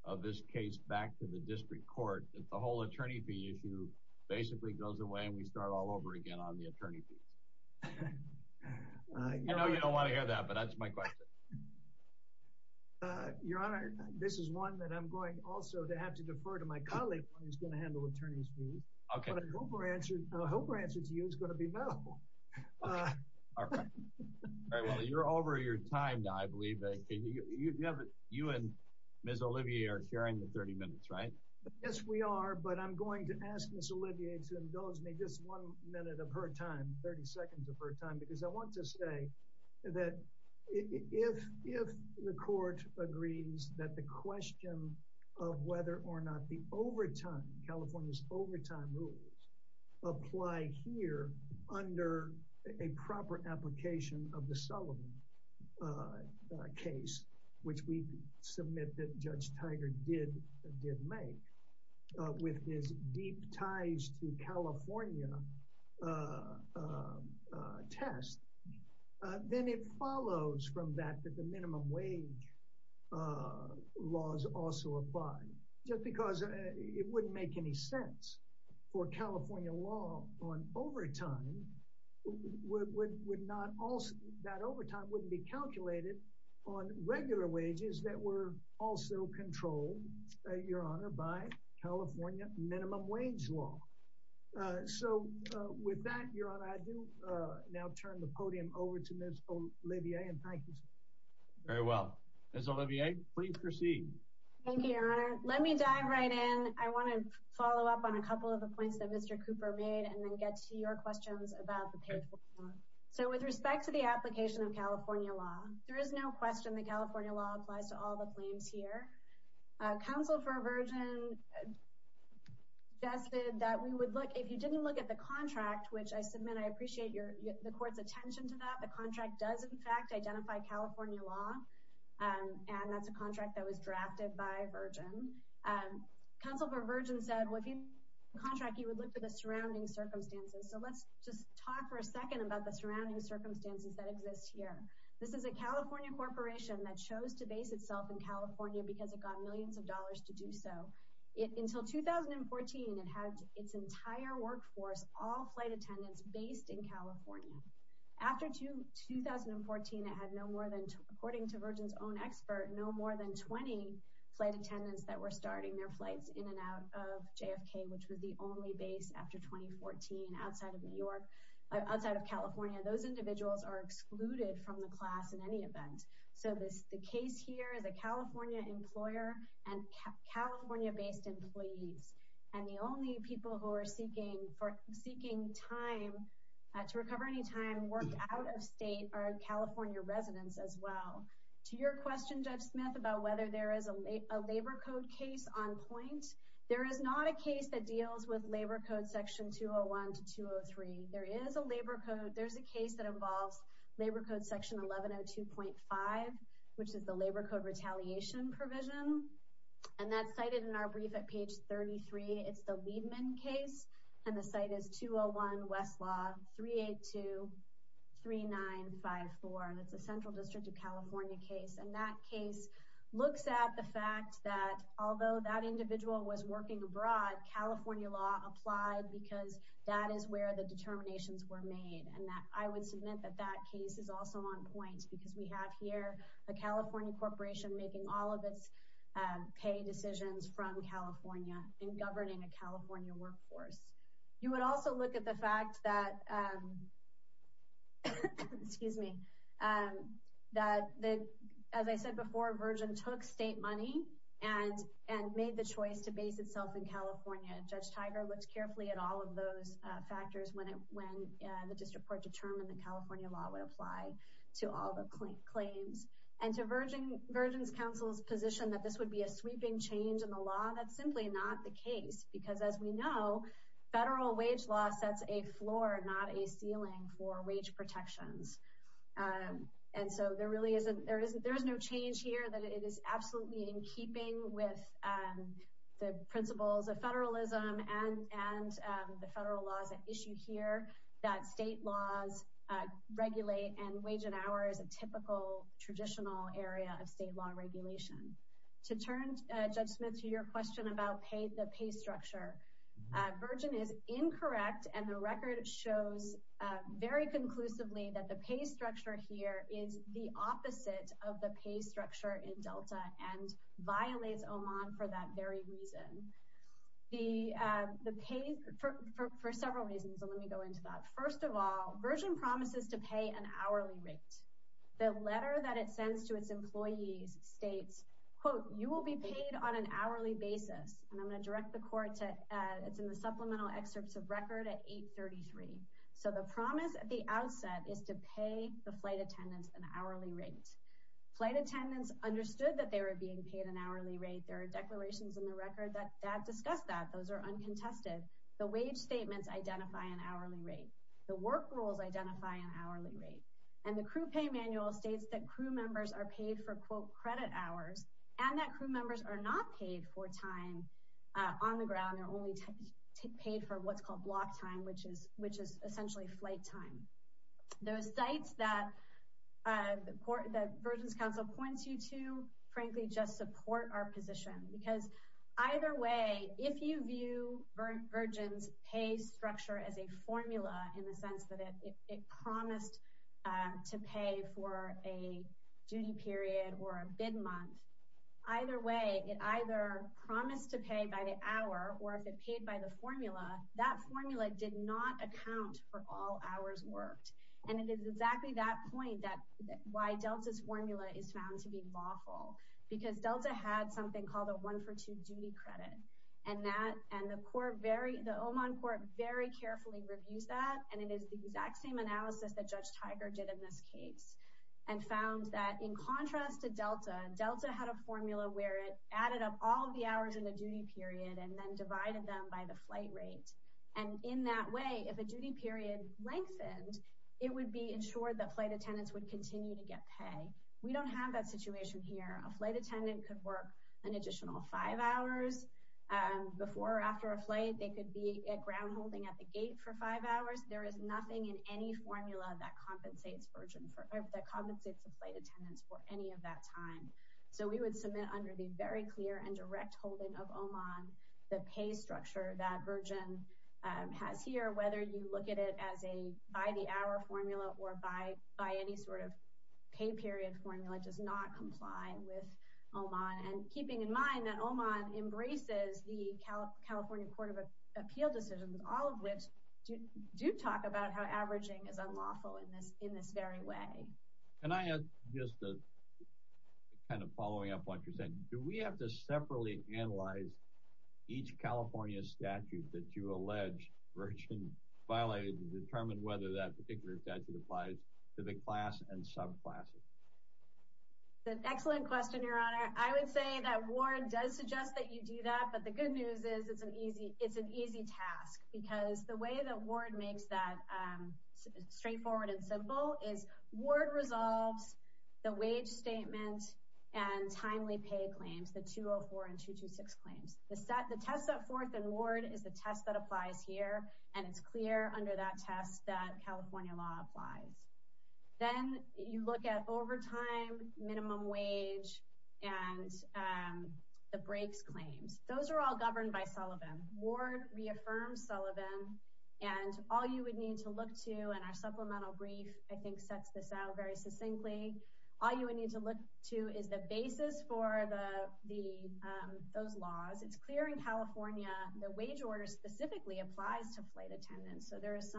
of this case back to the district court, if the whole attorney fee issue basically goes away and we start all over again on the attorney fee? I know you don't want to hear that, but that's my question. Your Honor, this is one that I'm going also to have to defer to my colleague. You're over your time now, I believe. You and Ms. Olivier are sharing the 30 minutes, right? Yes, we are, but I'm going to ask Ms. Olivier to indulge me just one minute of her time, 30 seconds of her time, because I want to say that if the court agrees that the question of whether or not the overtime, California's overtime rules, apply here under a proper application of the Sullivan case, which we submit that Judge Tiger did make with his deep ties to apply, just because it wouldn't make any sense for California law on overtime would not also, that overtime wouldn't be calculated on regular wages that were also controlled, Your Honor, by California minimum wage law. So with that, Your Honor, I do now turn the podium over to Ms. Olivier and thank you. Very well. Ms. Olivier, please proceed. Thank you, Your Honor. Let me dive right in. I want to follow up on a couple of the points that Mr. Cooper made and then get to your questions about the case. So with respect to the application of California law, there is no question that California law applies to all the claims here. Counsel for a virgin suggested that we would look, if you didn't look at the contract, which I submit, I appreciate the court's attention to that. The contract does, in fact, identify California law, and that's a contract that was drafted by a virgin. Counsel for a virgin said, looking at the contract, you would look for the surrounding circumstances. So let's just talk for a second about the surrounding circumstances that exist here. This is a California corporation that chose to base itself in California because it got millions of dollars to do so. Until 2014, it had its entire workforce, all flight attendants, based in California. After 2014, it had no more than, according to Virgin's own expert, no more than 20 flight attendants that were starting their flights in and out of JFK, which was the only base after 2014 outside of California. Those individuals are excluded from the class in any event. So the case here, the California employer and California-based employee, and the only people who are seeking time to recover any time work out-of-state are California residents as well. To your question, Judge Smith, about whether there is a labor code case on point, there is not a case that deals with labor code section 201 to 203. There is a labor code. There's a case that involves labor code section 1102.5, which is the labor code retaliation provision, and that's cited in our brief at page 33. It's the Liebman case, and the site is 201 Westlaw 3823954. That's the Central District of California case, and that case looks at the fact that although that individual was working abroad, California law applied because that is where the determinations were made, and that I would submit that that case is also on point because we have here a California corporation making all of its pay decisions from California and governing a California workforce. You would also look at the fact that, as I said before, Virgin took state money and made the choice to base itself in California. Judge Tiger looked carefully at all of those factors when the district court determined that California law would apply to all the claims, and to Virgin's counsel's position that this would be a sweeping change in the law, that's simply not the case because, as we know, federal wage law sets a floor, not a ceiling, for wage protections, and so there really isn't—there is no change here that it is absolutely in keeping with the principles of federalism and the federal laws at issue here that state laws regulate, and wage and hour is a typical traditional area of state law regulation. To turn, Judge Smith, to your question about the pay structure, Virgin is incorrect, and the record shows very conclusively that the pay structure here is the opposite of the pay structure in Delta and violates OMON for that very reason. The pay—for several reasons, but let me go into that. First of all, Virgin promises to pay an hourly rate. The letter that it sends to its employees states, quote, you will be paid on an hourly basis, and I'm going to direct the court to supplemental excerpts of record at 833. So the promise at the outset is to pay the flight attendants an hourly rate. Flight attendants understood that they were being paid an hourly rate. There are declarations in the record that discuss that. Those are uncontested. The wage statements identify an hourly rate. The work rules identify an hourly rate, and the crew pay manual states that crew members are paid for, quote, credit hours, and that crew members are not paid for time on the ground. They're only paid for what's called block time, which is essentially flight time. Those sites that Virgin's counsel points you to, frankly, just support our position because either way, if you view Virgin's pay structure as a formula in the sense that it promised to pay for a duty period or a bid month, either way, it either promised to pay by the hour or if it paid by the formula, that formula did not because Delta had something called a one-for-two duty credit, and the Oman court very carefully reviewed that, and it is the exact same analysis that Judge Tiger did in this case and found that in contrast to Delta, Delta had a formula where it added up all of the hours in the duty period and then divided them by the flight rate, and in that way, if the duty period lengthened, it would be ensured that flight attendants would continue to get pay. We don't have that situation here. A flight attendant could work an additional five hours before or after a flight. They could be at ground holding at the gate for five hours. There is nothing in any formula that compensates Virgin for, that compensates the flight attendants for any of that time, so we would submit under the very clear and direct holding of Oman the pay structure that Virgin has here, whether you look at it as a by the hour formula or by any sort of pay period formula does not comply with Oman, and keeping in mind that Oman embraces the California Court of Appeal decisions, all of which do talk about how averaging is unlawful in this very way. Can I add just kind of following up what you're saying? Do we have to separately analyze each California statute that you allege Virgin violated to determine whether that particular statute applies to the class and subclasses? Excellent question, Your Honor. I would say that Ward does suggest that you do that, but the good news is it's an easy task because the way that Ward makes that straightforward and simple is Ward resolves the wage statement and timely pay claims, the 204 and 226 claims. The test that Forth and Ward is the test that applies here, and it's clear under that test that California law applies. Then you look at overtime, minimum wage, and the breaks claims. Those are all governed by Sullivan. Ward reaffirms Sullivan, and all you would need to look to, and our supplemental brief, I think, sets this out very succinctly. All you would need to look to is the basis for those laws. It's clear in California the wage order specifically applies to flight attendants. So there is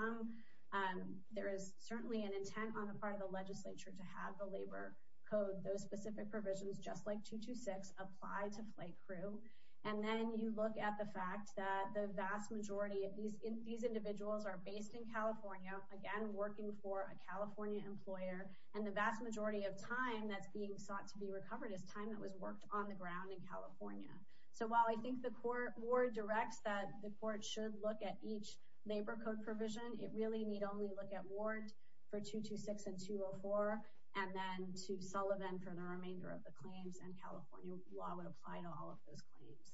certainly an intent on the part of the legislature to have the labor code, those specific provisions, just like 226, apply to flight crew. And then you look at the fact that the vast majority of these individuals are based in California, again working for a California employer, and the vast majority of time that's being sought to be recovered is time that was worked on the ground in California. So while I think that Ward directs that the court should look at each labor code provision, it really need only look at Ward for 226 and 204 and then to Sullivan for the remainder of the claims, and California law would apply to all of those claims.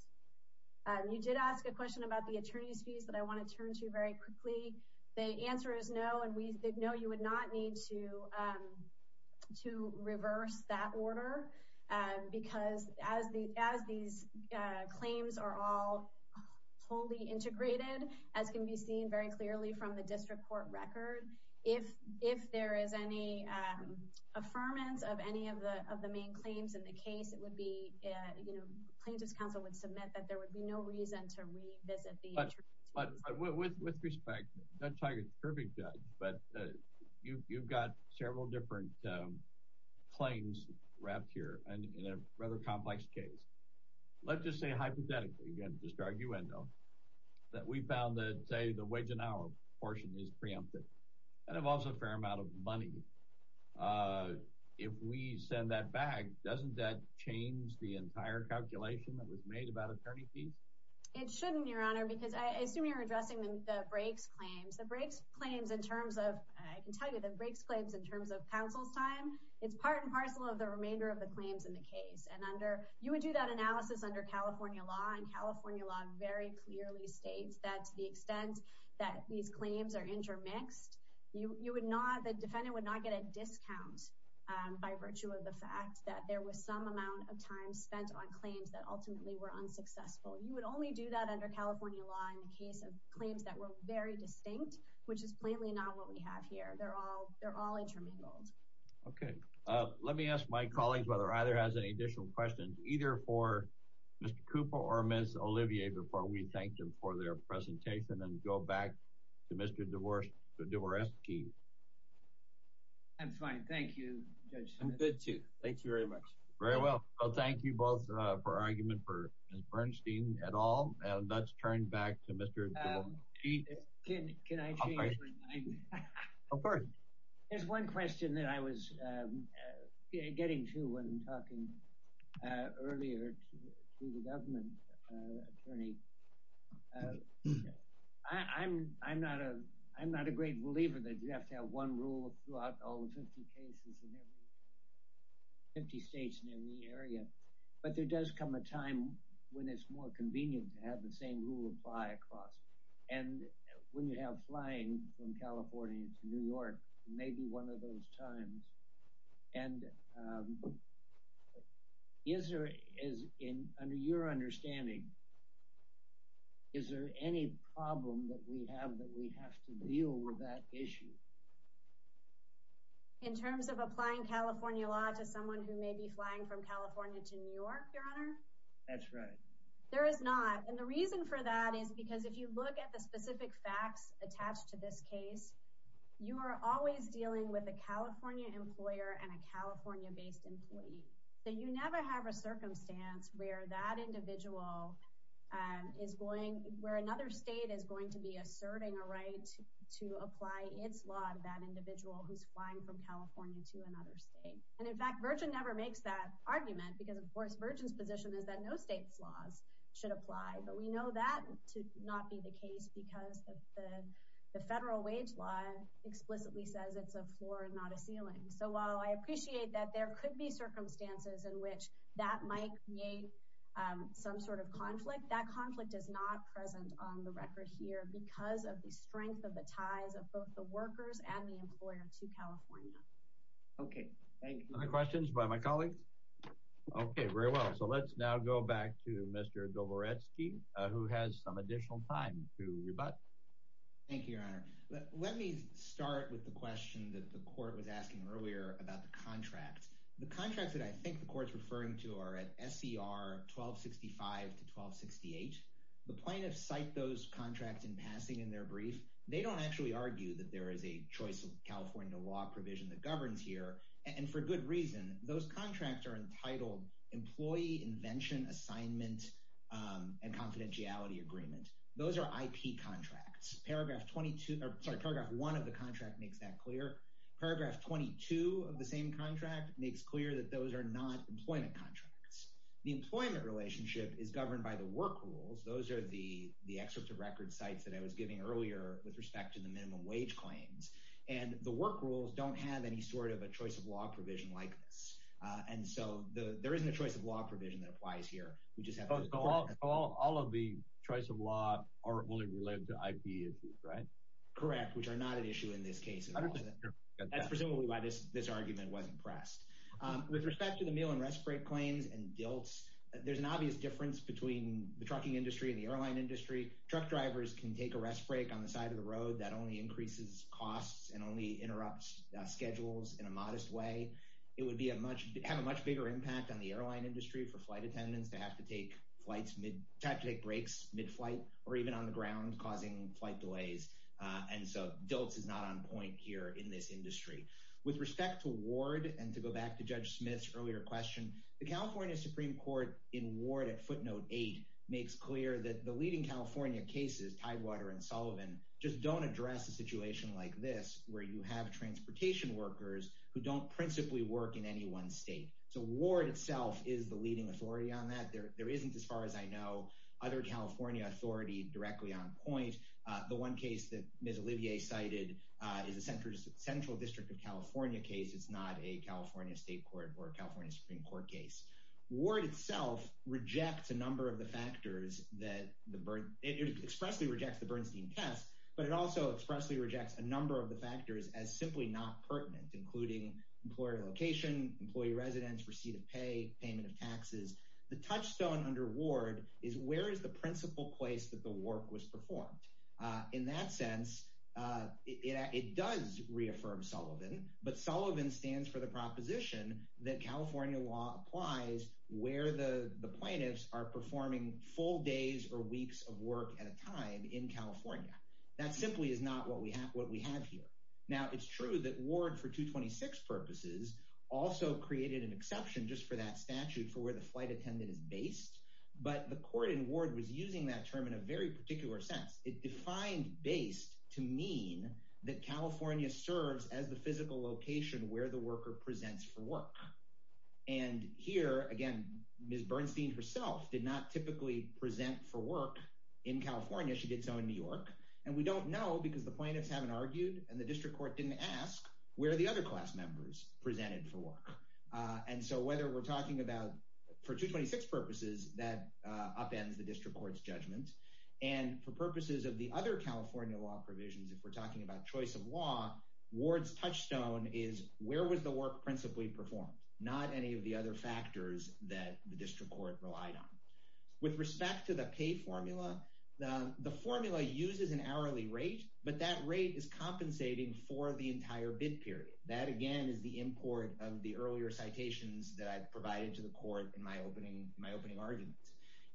You did ask a question about the plea. The answer is no, and we did know you would not need to reverse that order, because as these claims are all wholly integrated, as can be seen very clearly from the district court record, if there is any affirmance of any of the main claims in the case, it would be, you know, plaintiff's counsel would submit that there would be no reason to revisit the issue. But with respect, that's like a perfect judge, but you've got several different claims wrapped here in a rather complex case. Let's just say hypothetically, again, just arguendo, that we found that, say, the wage and hour portion is preemptive, and involves a fair amount of money. If we send that back, doesn't that change the entire calculation that was made about attorney fee? It shouldn't, Your Honor, because I assume you're addressing the brakes claims. The brakes claims in terms of, I can tell you, the brakes claims in terms of counsel time is part and parcel of the remainder of the claims in the case. And under, you would do that analysis under California law, and California law very clearly states that the extent that these claims are intermixed, you would not, the defendant would not get a discount by virtue of the fact that there was some amount of time spent on claims that ultimately were unsuccessful. You would only do that under California law in the case of claims that were very distinct, which is plainly not what we have here. They're all intermingled. Okay. Let me ask my colleagues whether either has any additional questions, either for Mr. Cooper or Ms. Olivier, before we thank them for their presentation and go back to Mr. Dvorsky. I'm fine. Thank you, Judge Smith. I'm good, too. Thank you very much. Very well. Well, thank you both for arguing for Ms. Bernstein at all. And let's turn back to Mr. Of course. There's one question that I was getting to when talking earlier to the government attorney. I'm not a great believer that you have to have one rule throughout all the 50 cases in every 50 states in the area. But there does come a time when it's more convenient to have the same rule apply across. And when you have flying from California to New York, maybe one of those times. And is there, under your understanding, is there any problem that we have that we have to deal with that issue? In terms of applying California law to someone who may be flying from California to New York, Your Honor? That's right. There is not. And the reason for that is because if you look at the California-based employee, you never have a circumstance where that individual is going, where another state is going to be asserting a right to apply its law to that individual who's flying from California to another state. And in fact, Virgin never makes that argument because, of course, Virgin's position is that no state's laws should apply. But we know that to not be the case because the federal wage law explicitly says it's a floor, not a ceiling. So while I appreciate that there could be circumstances in which that might create some sort of conflict, that conflict is not present on the record here because of the strength of the ties of both the workers and the employer to California. Okay, thank you. Other questions by my colleague? Okay, very well. So let's now go back to Mr. Dobrowolski, who has some additional time to rebut. Thank you, Your Honor. Let me start with the question that the court was asking earlier about the contract. The contract that I think the court's referring to are at SCR 1265 to 1268. The plaintiffs cite those contracts in passing in their brief. They don't actually argue that there is a choice of California law provision that governs here. And for good reason. Those contracts are entitled Employee Invention Assignment and Confidentiality Agreement. Those are IP contracts. Paragraph 22, sorry, Paragraph 1 of the contract makes that clear. Paragraph 22 of the same contract makes clear that those are not employment contracts. The employment relationship is governed by the work rules. Those are the excerpts of record cites that I was giving earlier with respect to the minimum wage claims. And the work rules don't have any sort of a choice of law provision like this. And so there isn't a choice of law provision that applies here. All of the choice of law are related to IP issues, right? Correct, which are not an issue in this case. Presumably why this argument wasn't pressed. With respect to the meal and rest break claim and guilt, there's an obvious difference between the trucking industry and the airline industry. Truck drivers can take a rest break on the side of the road that only increases costs and only interrupts schedules in a modest way. It would have a much bigger impact on the airline industry for flight attendants to have to take breaks mid-flight or even on the ground causing flight delays. And so those are not on point here in this industry. With respect to Ward and to go back to Judge Smith's earlier question, the California Supreme Court in Ward at footnote 8 makes clear that the leading California cases, Tidewater and Sullivan, just don't address a situation like this where you have transportation workers who don't principally work in any one state. So Ward itself is the leading authority on that. There isn't, as far as I know, other California authority directly on point. The one case that Ms. Olivier cited is the Central District of California case. It's not a California State Court or a California Supreme Court case. Ward itself rejects a number of the factors that, it expressly rejects the Bernstein test, but it also expressly rejects a number of the factors as simply not pertinent, including employer location, employee residence, receipt of pay, payment of taxes. The touchstone under Ward is where is the principal place that the work was performed? In that sense, it does reaffirm Sullivan, but Sullivan stands for the proposition that California law applies where the plaintiffs are performing full days or weeks of work at a time in California. That simply is not what we have here. Now it's true that Ward for 226 purposes also created an exception just for that statute for where the flight attendant is based, but the court in Ward was using that term in a very particular sense. It defines based to mean that California serves as the physical location where the worker presents for work. And here, again, Ms. Bernstein herself did not typically present for work in California. She did so in New York, and we don't know because the plaintiffs haven't argued and the district court didn't ask where the other class members presented for work. And so whether we're talking about, for 226 purposes, that upends the district court's judgments. And for purposes of the other California law provisions, if we're talking about choice of law, Ward's touchstone is where was the work principally performed, not any of the other factors that the district court relied on. With respect to the pay formula, the formula uses an is compensating for the entire bid period. That, again, is the import of the earlier citations that I provided to the court in my opening argument.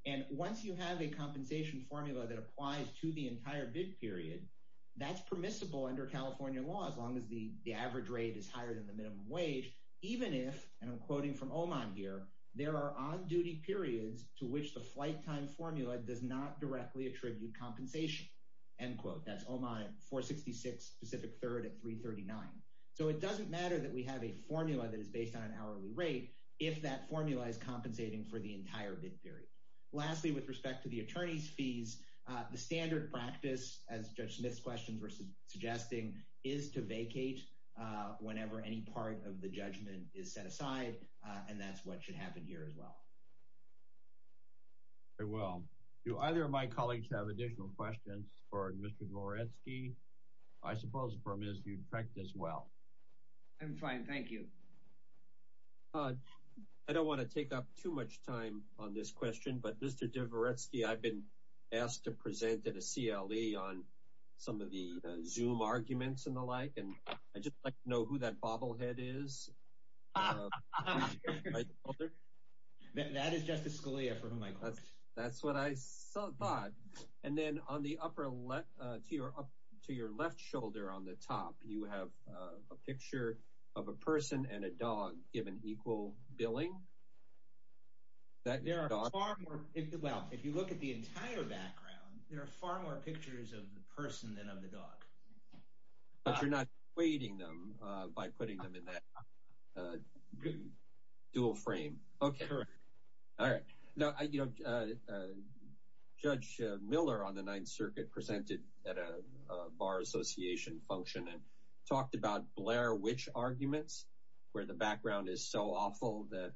And once you have a compensation formula that applies to the entire bid period, that's permissible under California law as long as the average rate is higher than the minimum wage, even if, and I'm quoting from Oman here, there are on-duty periods to which the flight time formula does not directly attribute compensation. End quote. That's Oman at 466, Pacific 3rd at 339. So it doesn't matter that we have a formula that is based on an hourly rate if that formula is compensating for the entire bid period. Lastly, with respect to the attorney's fees, the standard practice, as Judge Smith's questions were suggesting, is to vacate whenever any part of the judgment is set aside, and that's what should be done. I don't want to take up too much time on this question, but Mr. Dvoretsky, I've been asked to present at a CLE on some of the Zoom arguments and the like, and I'd just like to know who that bobblehead is. That's what I thought. And then on the to your left shoulder on the top, you would have a picture of a person and a dog given equal billing. If you look at the entire background, there are far more pictures of the person than of the dog. But you're not equating them by putting them in that dual frame. Okay. All right. Now, you know, Judge Miller on the Ninth Circuit presented at a Bar Association function and talked about Blair Witch arguments, where the background is so awful that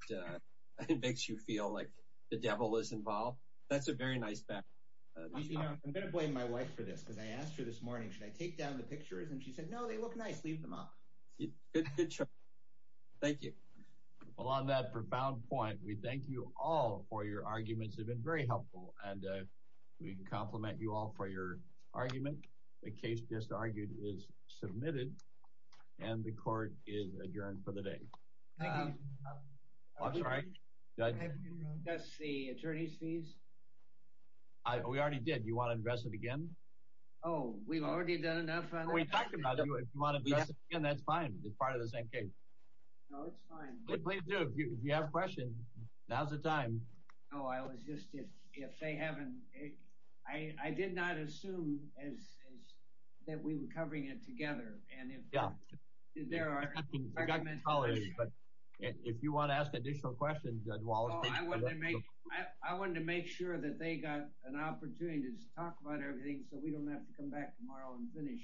it makes you feel like the devil is involved. That's a very nice background. I'm going to blame my wife for this, because I asked her this morning, should I take down the pictures? And she said, no, they look nice. Leave them up. Good show. Thank you. Well, on that profound point, we thank you all for your arguments have been very helpful, and we compliment you all for your argument. The case disargued is submitted, and the court is adjourned for the day. That's the attorney's fees. We already did. You want to invest it again? Oh, we've already done enough. That's fine. It's part of the same case. No, it's fine. Please do, if you have a question. Now's the time. No, I was just, if they haven't, I did not assume that we were covering it together. Yeah. If you want to ask additional questions. I wanted to make sure that they got an opportunity to talk about everything, so we don't have to come back tomorrow and finish.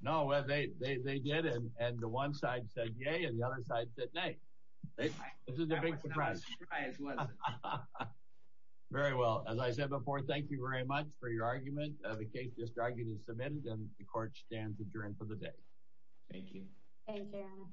No, they did, and the one side said yay, and the other side said nay. This is a big surprise. Very well, as I said before, thank you very much for your argument. The case is argued and submitted, and the court stands adjourned for the day. Thank you.